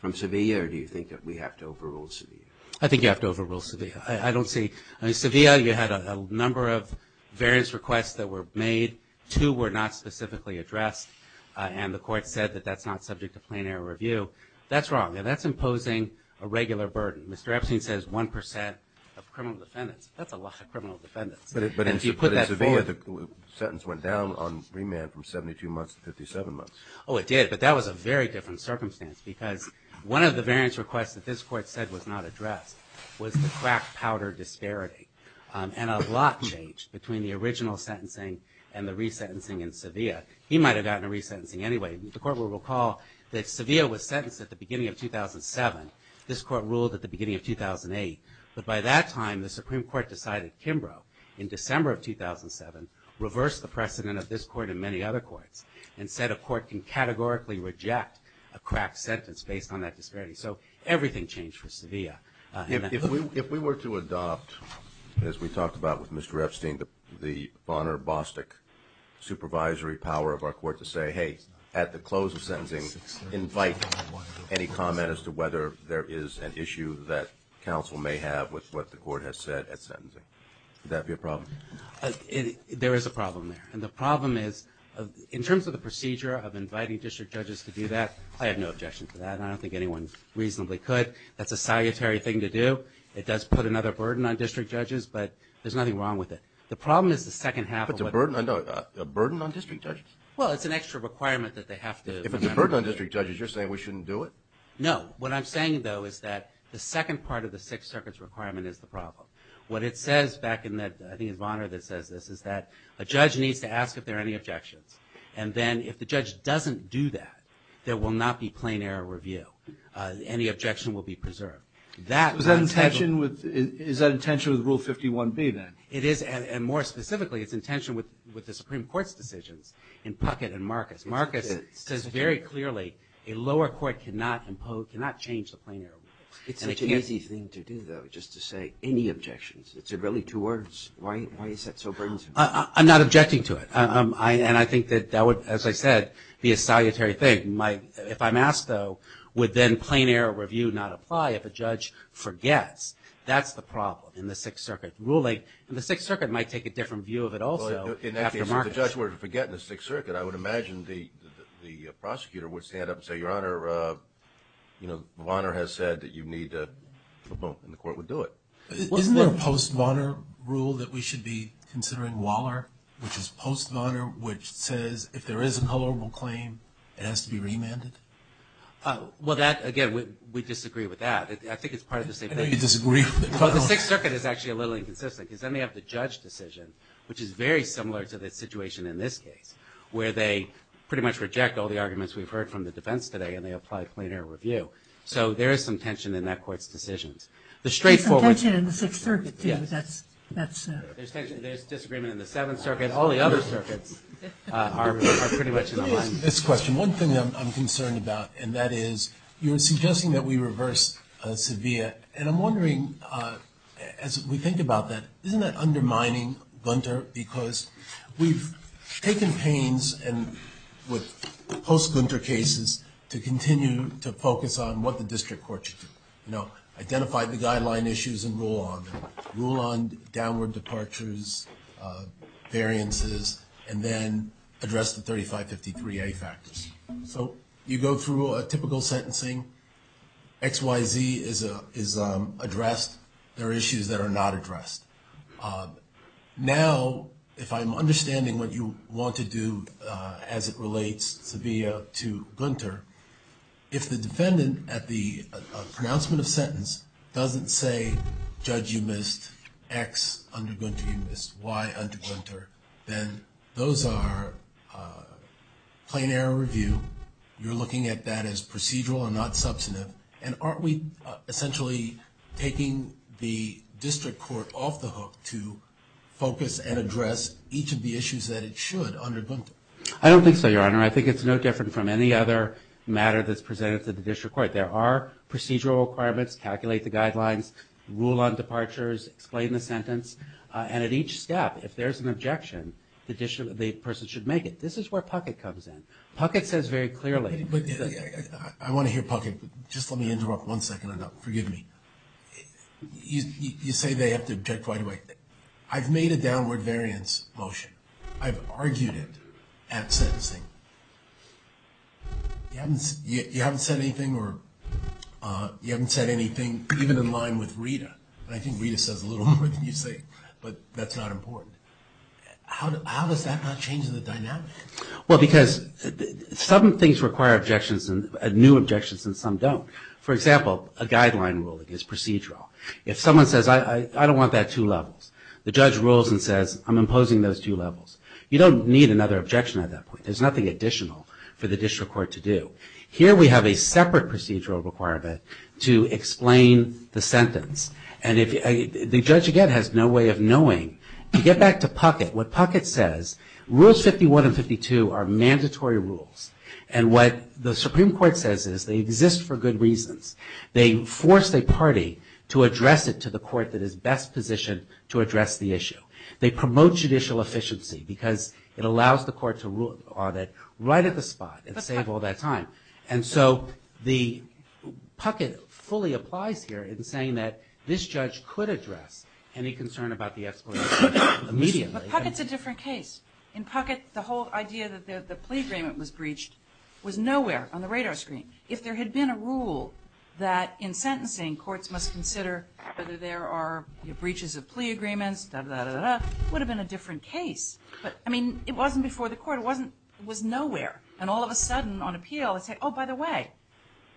from Sevilla, or do you think that we have to overrule Sevilla? I think you have to overrule Sevilla. I don't see, I mean Sevilla, you had a number of variance requests that were made. Two were not specifically addressed, and the court said that that's not subject to plain error review. That's wrong, and that's imposing a regular burden. Mr. Epstein says 1% of criminal defendants. That's a lot of criminal defendants. But in Sevilla, the sentence went down on remand from 72 months to 57 months. Oh it did, but that was a very different circumstance because one of the variance requests that this court said was not addressed was the crack powder disparity, and a lot changed between the original sentencing and the resentencing in Sevilla. He might have gotten a resentencing anyway. The court will recall that Sevilla was sentenced at the beginning of 2007. This court ruled at the beginning of 2008, but by that time the Supreme Court decided Kimbrough in December of 2007 reversed the precedent of this court and many other courts and said a court can categorically reject a crack sentence based on that disparity. So everything changed for Sevilla. If we were to adopt, as we talked about with Mr. Epstein, the Bonner-Bostick supervisory power of our court to say, hey, at the close of sentencing invite any comment as to whether there is an issue that counsel may have with what the court has said at sentencing, would that be a problem? There is a problem there, and the problem is in terms of the procedure of inviting district judges to do that, I have no objection to that, and I don't think anyone reasonably could. That's a salutary thing to do. It does put another burden on district judges, but there's nothing wrong with it. The problem is the second half. But it's a burden on district judges? Well, it's an extra requirement that they have to remember. If it's a burden on district judges, you're saying we shouldn't do it? No. What I'm saying, though, is that the second part of the Sixth Circuit's requirement is the problem. What it says back in that, I think it's Bonner that says this, is that a judge needs to ask if there are any objections, and then if the judge doesn't do that, there will not be plain error review. Any objection will be preserved. Is that in tension with Rule 51B, then? It is, and more specifically, it's in tension with the Supreme Court's decisions in Puckett and Marcus. Marcus says very clearly a lower court cannot change the plain error rule. It's such an easy thing to do, though, just to say any objections. It's really two words. Why is that so burdensome? I'm not objecting to it, and I think that that would, as I said, be a salutary thing. If I'm within plain error review, not apply, if a judge forgets, that's the problem in the Sixth Circuit. Ruling in the Sixth Circuit might take a different view of it, also, after Marcus. In that case, if the judge were to forget in the Sixth Circuit, I would imagine the prosecutor would stand up and say, Your Honor, Bonner has said that you need to, and the court would do it. Isn't there a post Bonner rule that we should be considering Waller, which is post Bonner, which says if there is a tolerable claim, it has to be remanded? Well, that, again, we disagree with that. I think it's part of the same thing. I know you disagree. The Sixth Circuit is actually a little inconsistent, because then they have the judge decision, which is very similar to the situation in this case, where they pretty much reject all the arguments we've heard from the defense today, and they apply plain error review. So there is some tension in that court's decisions. There's some tension in the Sixth Circuit, too. There's disagreement in the Seventh Circuit. All the other circuits are pretty much in line. This question, one thing I'm concerned about, and that is, you're suggesting that we reverse Sevilla. And I'm wondering, as we think about that, isn't that undermining Gunter? Because we've taken pains with post-Gunter cases to continue to focus on what the district court should do, you know, identify the guideline issues and rule on them, rule on downward departures, variances, and then address the 3553A factors. So you go through a typical sentencing. XYZ is addressed. There are issues that are not addressed. Now, if I'm understanding what you want to do as it relates Sevilla to Gunter, if the defendant at the pronouncement of sentence doesn't say, Judge, you missed X under Gunter, you missed Y under Gunter, then those are plain error review. You're looking at that as procedural and not substantive. And aren't we essentially taking the district court off the hook to focus and address each of the issues that it should under Gunter? I don't think so, Your Honor. I think it's no different from any other matter that's presented to the district court. There are procedural requirements, calculate the guidelines, rule on departures, explain the sentence. And at each step, if there's an objection, the person should make it. This is where Puckett comes in. Puckett says very clearly. I want to hear Puckett, but just let me interrupt one second. I don't know. Forgive me. You say they have to object right away. I've made a downward variance motion. I've argued it at sentencing. You haven't said anything or you haven't said anything, even in line with Rita. And I think Rita says a little more than you say, but that's not important. How does that not change the dynamic? Well, because some things require objections and new objections and some don't. For example, a guideline ruling is procedural. If someone says, I don't want that two levels, the judge rules and says, I'm imposing those two levels. You don't need another objection at that point. There's nothing additional for the district court to do. Here we have a separate procedural requirement to explain the sentence. And the judge, again, has no way of knowing. To get back to Puckett, what Puckett says, rules 51 and 52 are mandatory rules. And what the Supreme Court says is they exist for good reasons. They force a party to address it to the court that is best positioned to address the issue. They promote judicial efficiency because it allows the court to rule on it right at the spot and save all that time. And so Puckett fully applies here in saying that this judge could address any concern about the explanation immediately. But Puckett's a different case. In Puckett, the whole idea that the plea agreement was breached was nowhere on the radar screen. If there had been a rule that in sentencing courts must consider whether there are breaches of plea agreements, it would have been a different case. But, I mean, it wasn't before the court. It was nowhere. And all of a sudden, on appeal, they say, oh, by the way,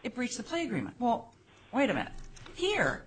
it breached the plea agreement. Well, wait a minute. Here,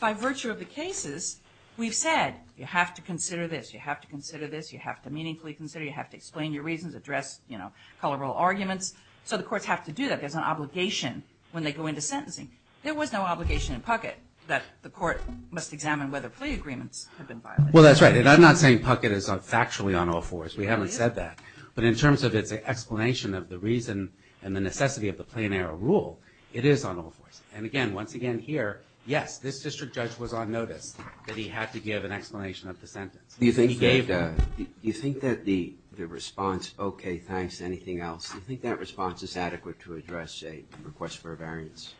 by virtue of the cases, we've said you have to consider this. You have to consider this. You have to meaningfully consider. You have to explain your reasons, address, you know, colorable arguments. So the courts have to do that. There's an obligation when they go into sentencing. There was no obligation in Puckett that the court must examine whether plea agreements have been violated. Well, that's right. And I'm not saying Puckett is factually on all fours. We haven't said that. But in terms of its explanation of the reason and the necessity of the plenary rule, it is on all fours. And again, once again, here, yes, this district judge was on notice that he had to give an explanation of the sentence. Do you think that the response, okay, thanks, anything else, do you think that response is adequate to address a request for a variance?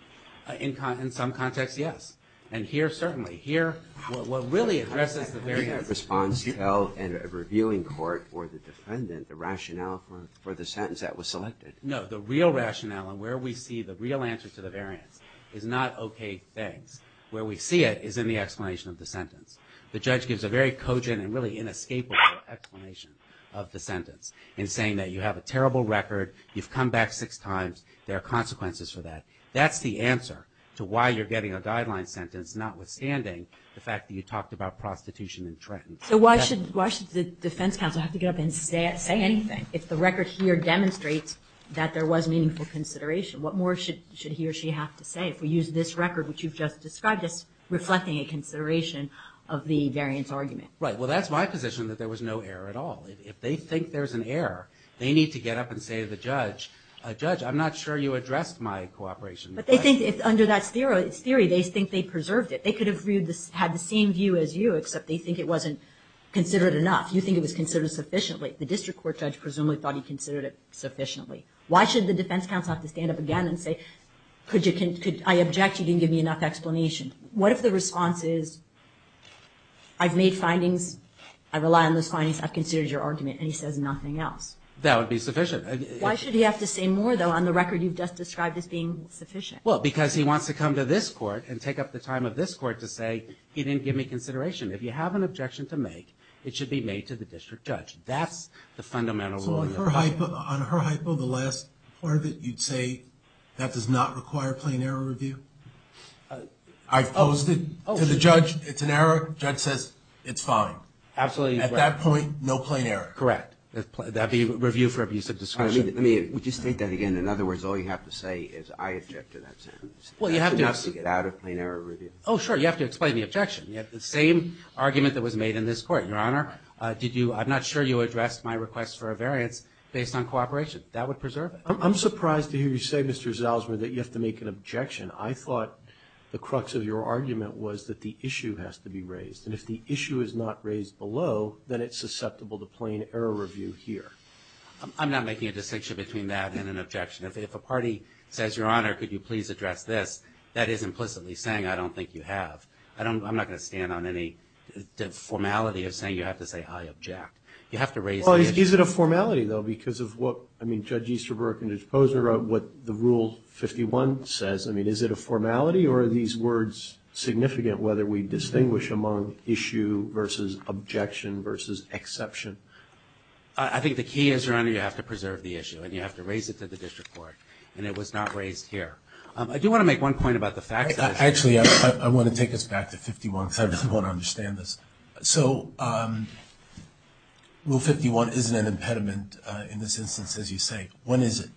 In some contexts, yes. And here, certainly. Here, what really addresses the variance— Do you think that response tells a reviewing court or the defendant the rationale for the sentence that was selected? No. The real rationale and where we see the real answer to the variance is not, okay, thanks. Where we see it is in the explanation of the sentence. The judge gives a very cogent and really inescapable explanation of the sentence in saying that you have a terrible record. You've come back six times. There are consequences for that. That's the answer to why you're getting a guideline sentence, notwithstanding the fact that you talked about prostitution and treatment. So why should the defense counsel have to get up and say anything if the record here demonstrates that there was meaningful consideration? What more should he or she have to say if we use this record which you've just described as reflecting a consideration of the variance argument? Right. Well, that's my position that there was no error at all. If they think there's an error, they need to get up and say to the judge, Judge, I'm not sure you addressed my cooperation. But they think under that theory, they think they preserved it. They could have had the same view as you, except they think it wasn't considered enough. You think it was considered sufficiently. The district court judge presumably thought he considered it sufficiently. Why should the defense counsel have to stand up again and say, I object. You didn't give me enough explanation. What if the response is, I've made findings. I rely on those findings. I've considered your argument. And he says nothing else. That would be sufficient. Why should he have to say more, though, on the record you've just described as being sufficient? Well, because he wants to come to this court and take up the time of this court to say, he didn't give me consideration. If you have an objection to make, it should be made to the district judge. That's the fundamental rule. So on her hypo, the last part of it, you'd say that does not require plain error review? I've posed it to the judge. It's an error. Judge says, it's fine. Absolutely. At that point, no plain error. Correct. That'd be review for abuse of discretion. Let me just state that again. In other words, all you have to say is, I object to that sentence. Well, you have to get out of plain error review. Oh, sure. You have to explain the objection. You have the same argument that was made in this court. Your Honor, I'm not sure you addressed my request for a variance based on cooperation. That would preserve it. I'm surprised to hear you say, Mr. Zalzman, that you have to make an objection. I thought the crux of your argument was that the issue has to be raised. And if the issue is not raised below, then it's susceptible to plain error review here. I'm not making a distinction between that and an objection. If a party says, Your Honor, could you please address this, that is implicitly saying, I don't think you have. I'm not going to stand on any formality of saying you have to say, I object. You have to raise the issue. Is it a formality, though, because of what Judge Easterbrook and Judge Posner wrote, what the Rule 51 says? I mean, is it a formality? Or are these words significant, whether we distinguish among issue versus objection versus exception? I think the key is, Your Honor, you have to preserve the issue. And you have to raise it to the district court. And it was not raised here. I do want to make one point about the fact that— Actually, I want to take us back to 51, because I really want to understand this. So Rule 51 isn't an impediment in this instance, as you say. When is it?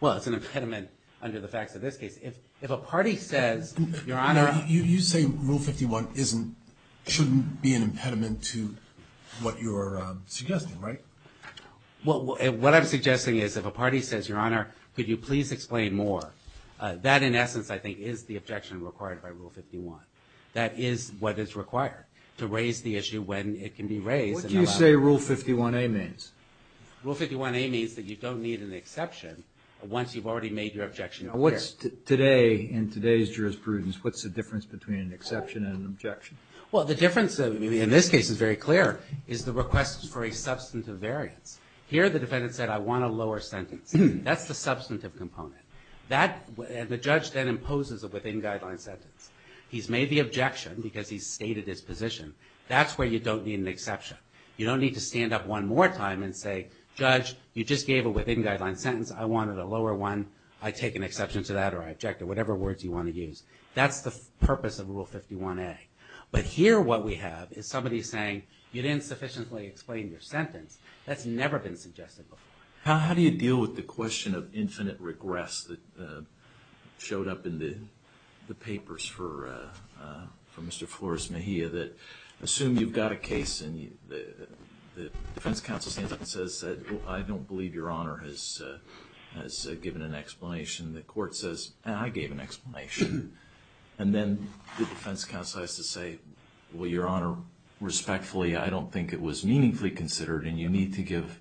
Well, it's an impediment under the facts of this case. If a party says, Your Honor— You say Rule 51 shouldn't be an impediment to what you're suggesting, right? Well, what I'm suggesting is, if a party says, Your Honor, could you please explain more, that in essence, I think, is the objection required by Rule 51. That is what is required, to raise the issue when it can be raised. What do you say Rule 51a means? Rule 51a means that you don't need an exception once you've already made your objection. Now, what's today, in today's jurisprudence, what's the difference between an exception and an objection? Well, the difference, in this case, is very clear, is the request for a substantive variance. Here, the defendant said, I want a lower sentence. That's the substantive component. That, the judge then imposes a within-guideline sentence. He's made the objection, because he's stated his position. That's where you don't need an exception. You don't need to stand up one more time and say, Judge, you just gave a within-guideline sentence. I wanted a lower one. I take an exception to that, or I object, or whatever words you want to use. That's the purpose of Rule 51a. But here, what we have is somebody saying, you didn't sufficiently explain your sentence. That's never been suggested before. How do you deal with the question of infinite regress that showed up in the papers for Mr. Flores-Mejia that, assume you've got a case, and the defense counsel stands up and says, I don't believe Your Honor has given an explanation. The court says, I gave an explanation. And then the defense counsel has to say, well, Your Honor, respectfully, I don't think it was meaningfully considered, and you need to give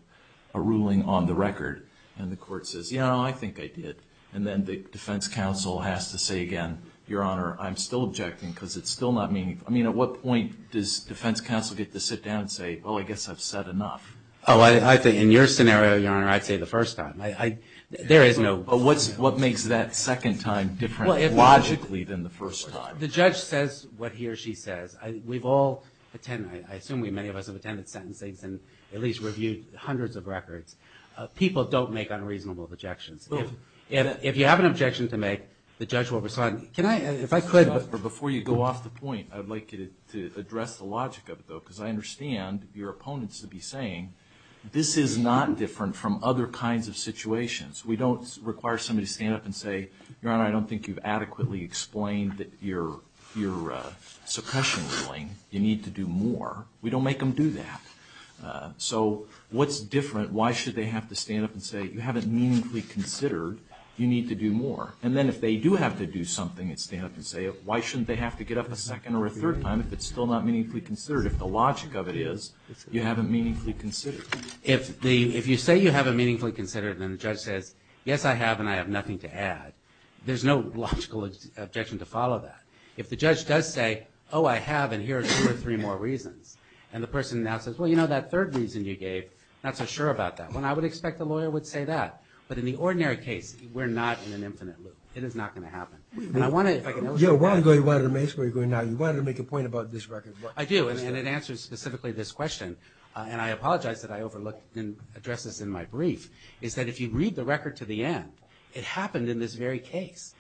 a ruling on the record. And the court says, yeah, I think I did. And then the defense counsel has to say again, Your Honor, I'm still objecting, because it's still not meaningful. I mean, at what point does defense counsel get to sit down and say, well, I guess I've said enough? Oh, I think in your scenario, Your Honor, I'd say the first time. There is no, but what makes that second time different logically than the first time? The judge says what he or she says. We've all attended, I assume many of us have attended sentencing and at least reviewed hundreds of records. People don't make unreasonable objections. If you have an objection to make, the judge will respond. If I could, before you go off the point, I'd like you to address the logic of it, though, because I understand your opponents would be saying, this is not different from other kinds of situations. We don't require somebody to stand up and say, Your Honor, I don't think you've adequately explained your suppression ruling. You need to do more. We don't make them do that. So what's different? Why should they have to stand up and say, you haven't meaningfully considered. You need to do more. And then if they do have to do something and stand up and say it, why shouldn't they have to get up a second or a third time if it's still not meaningfully considered? If the logic of it is, you haven't meaningfully considered. If you say you haven't meaningfully considered, then the judge says, yes, I have, and I have nothing to add. There's no logical objection to follow that. If the judge does say, oh, I have, and here are two or three more reasons, and the person now says, well, you know, that third reason you gave, not so sure about that one, I would expect the lawyer would say that. But in the ordinary case, we're not in an infinite loop. It is not going to happen. And I want to, if I can illustrate that. Yeah, while you're going, why don't you make a point about this record? I do, and it answers specifically this question. And I apologize that I overlooked and addressed this in my brief, is that if you read the record to the end, it happened in this very case.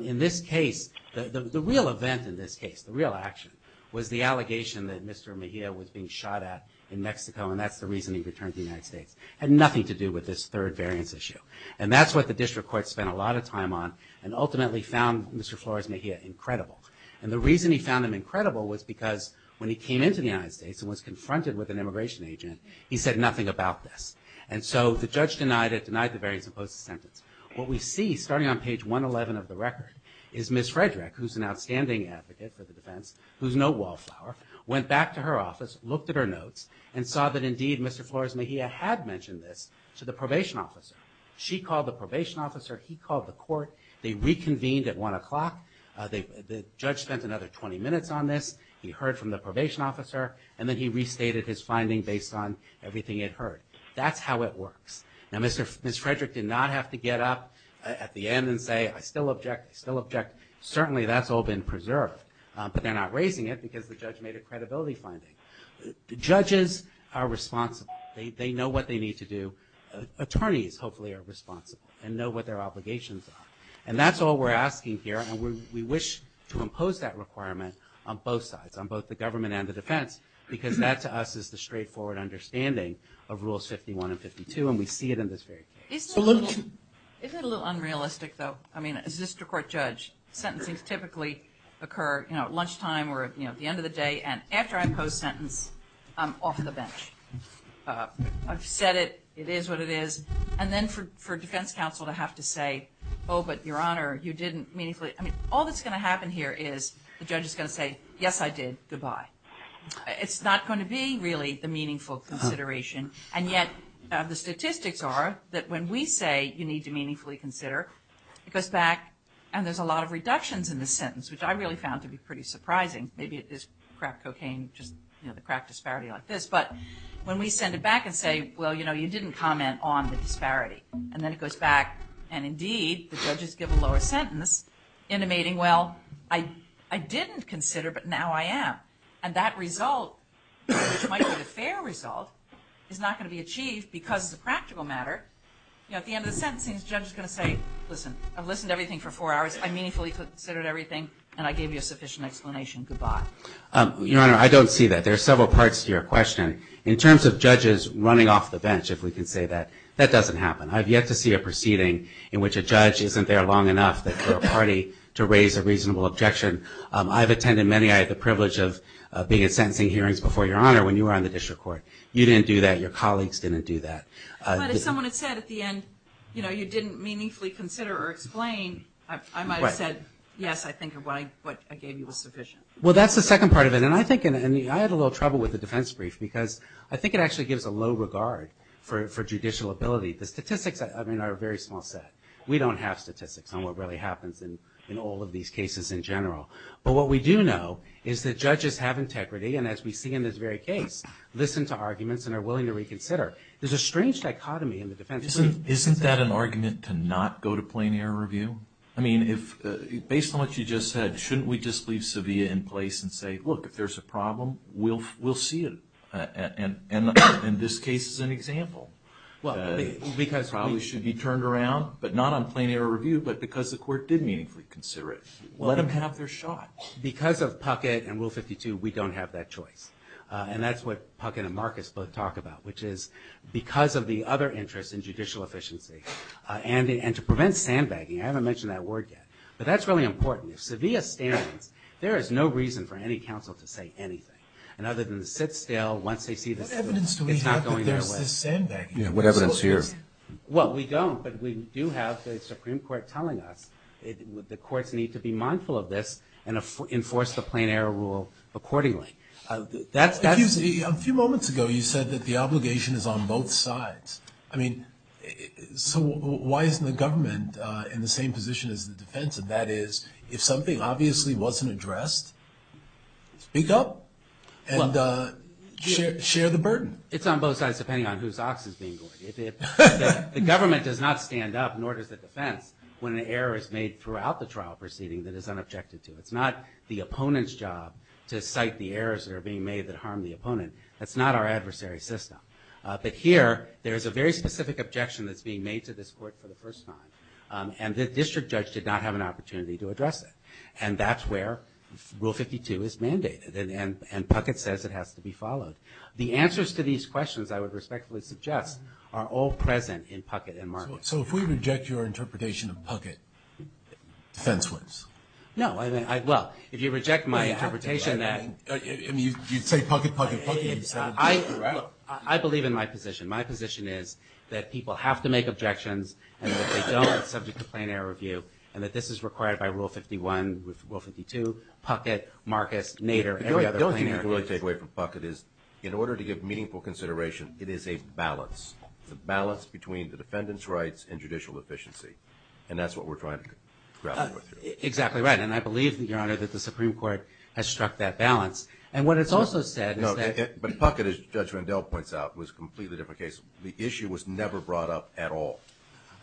In this case, the real event in this case, the real action, was the allegation that Mr. Mejia was being shot at in Mexico, and that's the reason he returned to the United States. Had nothing to do with this third variance issue. And that's what the district court spent a lot of time on, and ultimately found Mr. Flores Mejia incredible. And the reason he found him incredible was because when he came into the United States and was confronted with an immigration agent, he said nothing about this. And so the judge denied it, denied the variance and posed the sentence. What we see, starting on page 111 of the record, is Ms. Frederick, who's an outstanding advocate for the defense, who's no wallflower, went back to her office, looked at her notes, and saw that indeed Mr. Flores Mejia had mentioned this to the probation officer. She called the probation officer. He called the court. They reconvened at 1 o'clock. The judge spent another 20 minutes on this. He heard from the probation officer. And then he restated his finding based on everything he had heard. That's how it works. Now, Ms. Frederick did not have to get up at the end and say, I still object, I still object. Certainly, that's all been preserved. But they're not raising it because the judge made a credibility finding. Judges are responsible. They know what they need to do. Attorneys, hopefully, are responsible and know what their obligations are. And that's all we're asking here. And we wish to impose that requirement on both sides, on both the government and the defense, because that, to us, is the straightforward understanding of Rules 51 and 52. And we see it in this very case. Isn't it a little unrealistic, though? I mean, as a district court judge, sentencing typically occur at lunchtime or at the end of the day. And after I impose a sentence, I'm off the bench. I've said it. It is what it is. And then for defense counsel to have to say, oh, but Your Honor, you didn't meaningfully I mean, all that's going to happen here is the judge is going to say, yes, I did. Goodbye. It's not going to be, really, the meaningful consideration. And yet, the statistics are that when we say you need to meaningfully consider, it goes back. And there's a lot of reductions in the sentence, which I really found to be pretty surprising. Maybe it is crack cocaine, just the crack disparity like this. But when we send it back and say, well, you didn't comment on the disparity. And then it goes back. And indeed, the judges give a lower sentence, intimating, well, I didn't consider, but now I am. And that result, which might be the fair result, is not going to be achieved because it's a practical matter. At the end of the sentencing, the judge is going to say, listen, I've listened to everything for four hours. I meaningfully considered everything. And I gave you a sufficient explanation. Goodbye. Your Honor, I don't see that. There are several parts to your question. In terms of judges running off the bench, if we can say that, that doesn't happen. I've yet to see a proceeding in which a judge isn't there long enough that they're a party to raise a reasonable objection. I've attended many. I had the privilege of being in sentencing hearings before Your Honor when you were on the district court. You didn't do that. Your colleagues didn't do that. But if someone had said at the end, you didn't meaningfully consider or explain, I might have said, yes, I think what I gave you was sufficient. Well, that's the second part of it. And I think I had a little trouble with the defense brief because I think it actually gives a low regard for judicial ability. The statistics, I mean, are a very small set. We don't have statistics on what really happens in all of these cases in general. But what we do know is that judges have integrity. And as we see in this very case, listen to arguments and are willing to reconsider. There's a strange dichotomy in the defense. Isn't that an argument to not go to plain error review? I mean, based on what you just said, shouldn't we just leave Sevilla in place and say, look, if there's a problem, we'll see it. And this case is an example. Probably should be turned around, but not on plain error review, but because the court did meaningfully consider it. Let them have their shot. Because of Puckett and Rule 52, we don't have that choice. And that's what Puckett and Marcus both talk about, which is because of the other interests in judicial efficiency and to prevent sandbagging. I haven't mentioned that word yet. But that's really important. If Sevilla stands, there is no reason for any counsel to say anything. And other than to sit still once they see this. What evidence do we have that there's this sandbagging? What evidence do you have? Well, we don't. But we do have the Supreme Court telling us the courts need to be mindful of this and enforce the plain error rule accordingly. A few moments ago, you said that the obligation is on both sides. I mean, so why isn't the government in the same position as the defense? That is, if something obviously wasn't addressed, speak up and share the burden. It's on both sides, depending on whose ox is being lured. The government does not stand up, nor does the defense, when an error is made throughout the trial proceeding that is unobjected to. It's not the opponent's job to cite the errors that are being made that harm the opponent. That's not our adversary system. But here, there is a very specific objection that's being made to this court for the first time. And the district judge did not have an opportunity to address it. And that's where Rule 52 is mandated. And Puckett says it has to be followed. The answers to these questions, I would respectfully suggest, are all present in Puckett and Marcus. So if we reject your interpretation of Puckett, defense wins? No, I mean, well, if you reject my interpretation that- I mean, you'd say Puckett, Puckett, Puckett. You'd say- I believe in my position. My position is that people have to make objections and that they don't, subject to plain error review, and that this is required by Rule 51, with Rule 52, Puckett, Marcus, Nader, every other plain error- The only thing you can really take away from Puckett is, in order to give meaningful consideration, it is a balance. It's a balance between the defendant's rights and judicial efficiency. And that's what we're trying to grapple with here. Exactly right. And I believe, Your Honor, that the Supreme Court has struck that balance. And what it's also said is that- But Puckett, as Judge Vandell points out, was a completely different case. The issue was never brought up at all.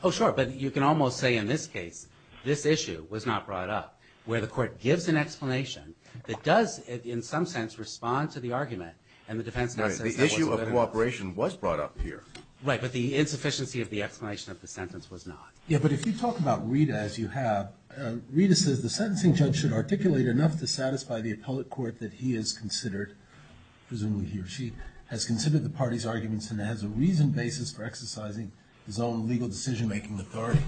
Oh, sure. But you can almost say, in this case, this issue was not brought up, where the court gives an explanation that does, in some sense, respond to the argument. And the defense now says- The issue of cooperation was brought up here. Right. But the insufficiency of the explanation of the sentence was not. Yeah. But if you talk about Rita, as you have, Rita says the sentencing judge should articulate enough to satisfy the appellate court that he has considered, presumably he or she, has considered the party's arguments and has a reasoned basis for exercising his own legal decision-making authority.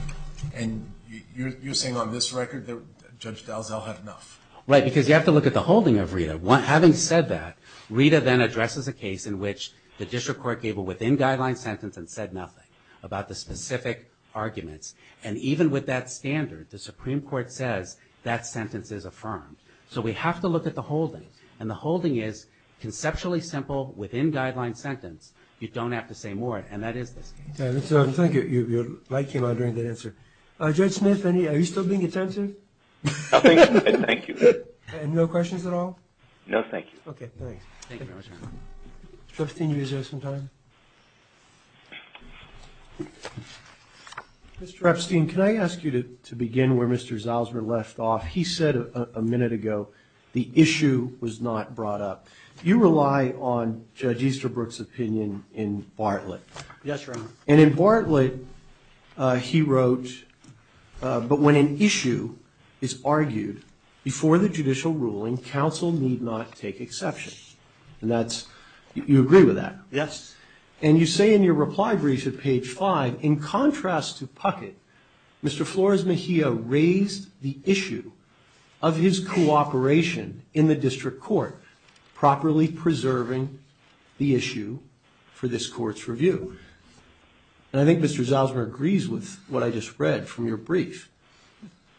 And you're saying, on this record, that Judge Dalzell had enough? Right. Because you have to look at the holding of Rita. Having said that, Rita then addresses a case in which the district court gave a within guideline sentence and said nothing about the specific arguments. And even with that standard, the Supreme Court says that sentence is affirmed. So we have to look at the holding. And the holding is conceptually simple, within guideline sentence. You don't have to say more. And that is this case. So thank you. Your light came on during that answer. Judge Smith, are you still being attentive? Thank you. And no questions at all? No, thank you. Okay, thanks. Thank you very much, Your Honor. Justine, you have some time? Mr. Epstein, can I ask you to begin where Mr. Zalzwer left off? He said a minute ago, the issue was not brought up. You rely on Judge Easterbrook's opinion in Bartlett. Yes, Your Honor. And in Bartlett, he wrote, but when an issue is argued before the judicial ruling, counsel need not take exception. And that's, you agree with that? Yes. And you say in your reply brief at page five, in contrast to Puckett, Mr. Flores Mejia raised the issue of his cooperation in the district court, properly preserving the issue for this court's review. And I think Mr. Zalzwer agrees with what I just read from your brief.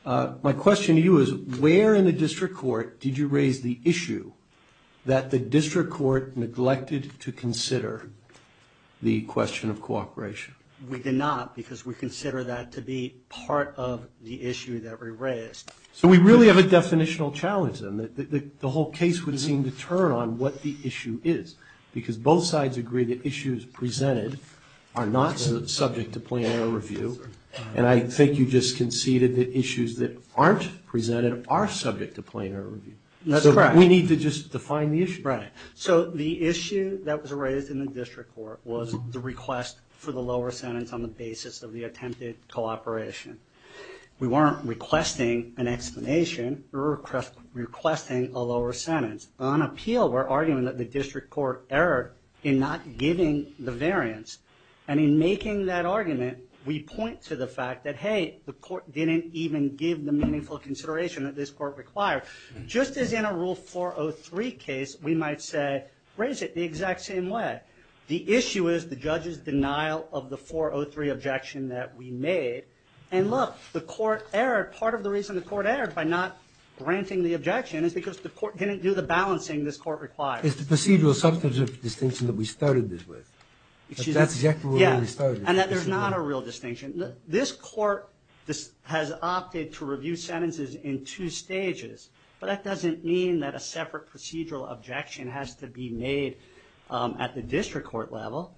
My question to you is, where in the district court did you raise the issue that the district court neglected to consider the question of cooperation? We did not, because we consider that to be part of the issue that we raised. So we really have a definitional challenge, and the whole case would seem to turn on what the issue is. Because both sides agree that issues presented are not subject to plain error review. And I think you just conceded that issues that aren't presented are subject to plain error review. That's correct. We need to just define the issue. Right. So the issue that was raised in the district court was the request for the lower sentence on the basis of the attempted cooperation. We weren't requesting an explanation, we were requesting a lower sentence. On appeal, we're arguing that the district court erred in not giving the variance. And in making that argument, we point to the fact that, hey, the court didn't even give the meaningful consideration that this court required. Just as in a Rule 403 case, we might say, raise it the exact same way. The issue is the judge's denial of the 403 objection that we made. And look, the court erred. Part of the reason the court erred by not granting the objection is because the court didn't do the balancing this court required. It's the procedural substantive distinction that we started this with. That's exactly where we started. And that there's not a real distinction. This court has opted to review sentences in two stages. But that doesn't mean that a separate procedural objection has to be made at the district court level.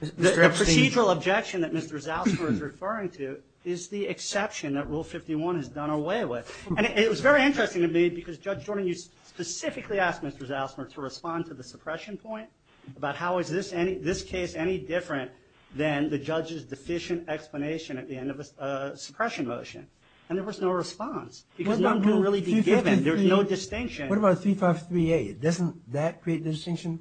The procedural objection that Mr. Zausmer is referring to is the exception that Rule 51 has done away with. And it was very interesting to me because, Judge Jordan, you specifically asked Mr. Zausmer to respond to the suppression point about how is this case any different than the judge's deficient explanation at the end of a suppression motion. And there was no response because none could really be given. There's no distinction. What about 353A? Doesn't that create the distinction?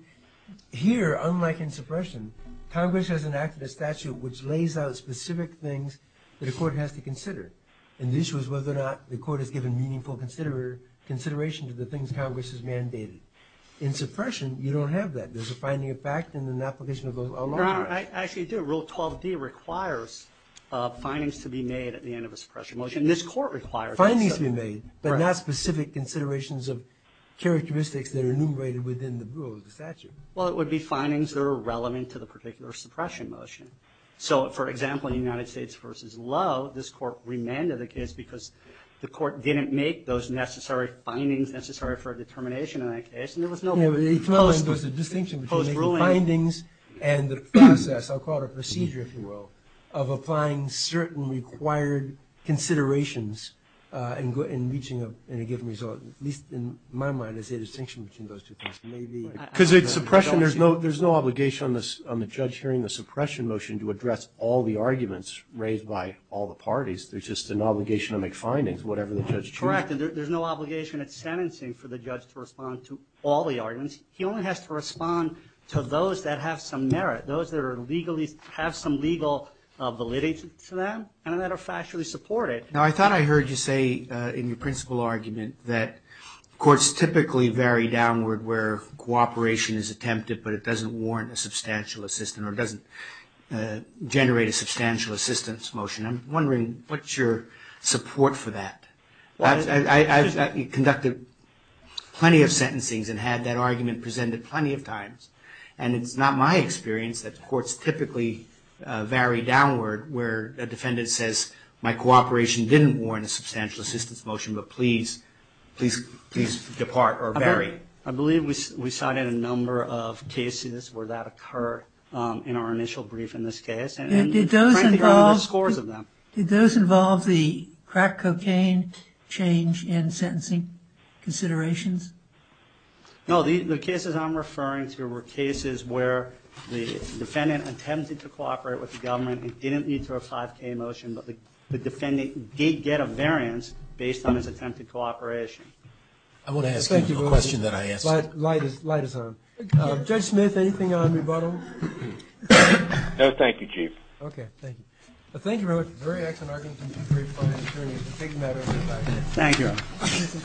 Here, unlike in suppression, Congress has enacted a statute which lays out specific things that a court has to consider. And the issue is whether or not the court has given meaningful consideration to the things Congress has mandated. In suppression, you don't have that. There's a finding of fact and an application of those along the way. Your Honor, I actually do. Rule 12d requires findings to be made at the end of a suppression motion. This court requires that. But not specific considerations of characteristics that are enumerated within the rule of the statute. Well, it would be findings that are relevant to the particular suppression motion. So, for example, in United States v. Lowe, this court remanded the case because the court didn't make those necessary findings necessary for a determination in that case. And there was no post-ruling. There's a distinction between the findings and the process, I'll call it a procedure, if you will, of applying certain required considerations in reaching a given result. At least, in my mind, there's a distinction between those two things. Because in suppression, there's no obligation on the judge hearing the suppression motion to address all the arguments raised by all the parties. There's just an obligation to make findings, whatever the judge chooses. Correct. And there's no obligation at sentencing for the judge to respond to all the arguments. He only has to respond to those that have some merit, those that have some legal validity to them, and that are factually supported. Now, I thought I heard you say, in your principal argument, that courts typically vary downward where cooperation is attempted, but it doesn't warrant a substantial assistance, or it doesn't generate a substantial assistance motion. I'm wondering, what's your support for that? I've conducted plenty of sentencings and had that argument presented plenty of times. And it's not my experience that courts typically vary downward where a defendant says, my cooperation didn't warrant a substantial assistance motion, but please, please, please depart or vary. I believe we cited a number of cases where that occurred in our initial brief in this case. And did those involve the crack cocaine change in sentencing considerations? No, the cases I'm referring to were cases where the defendant attempted to cooperate with the government and didn't need to have a 5K motion, but the defendant did get a variance based on his attempted cooperation. I want to ask him a question that I asked him. The light is on. Judge Smith, anything on rebuttal? No, thank you, Chief. Okay, thank you. Thank you very much. Very excellent argument, very fine. Thank you.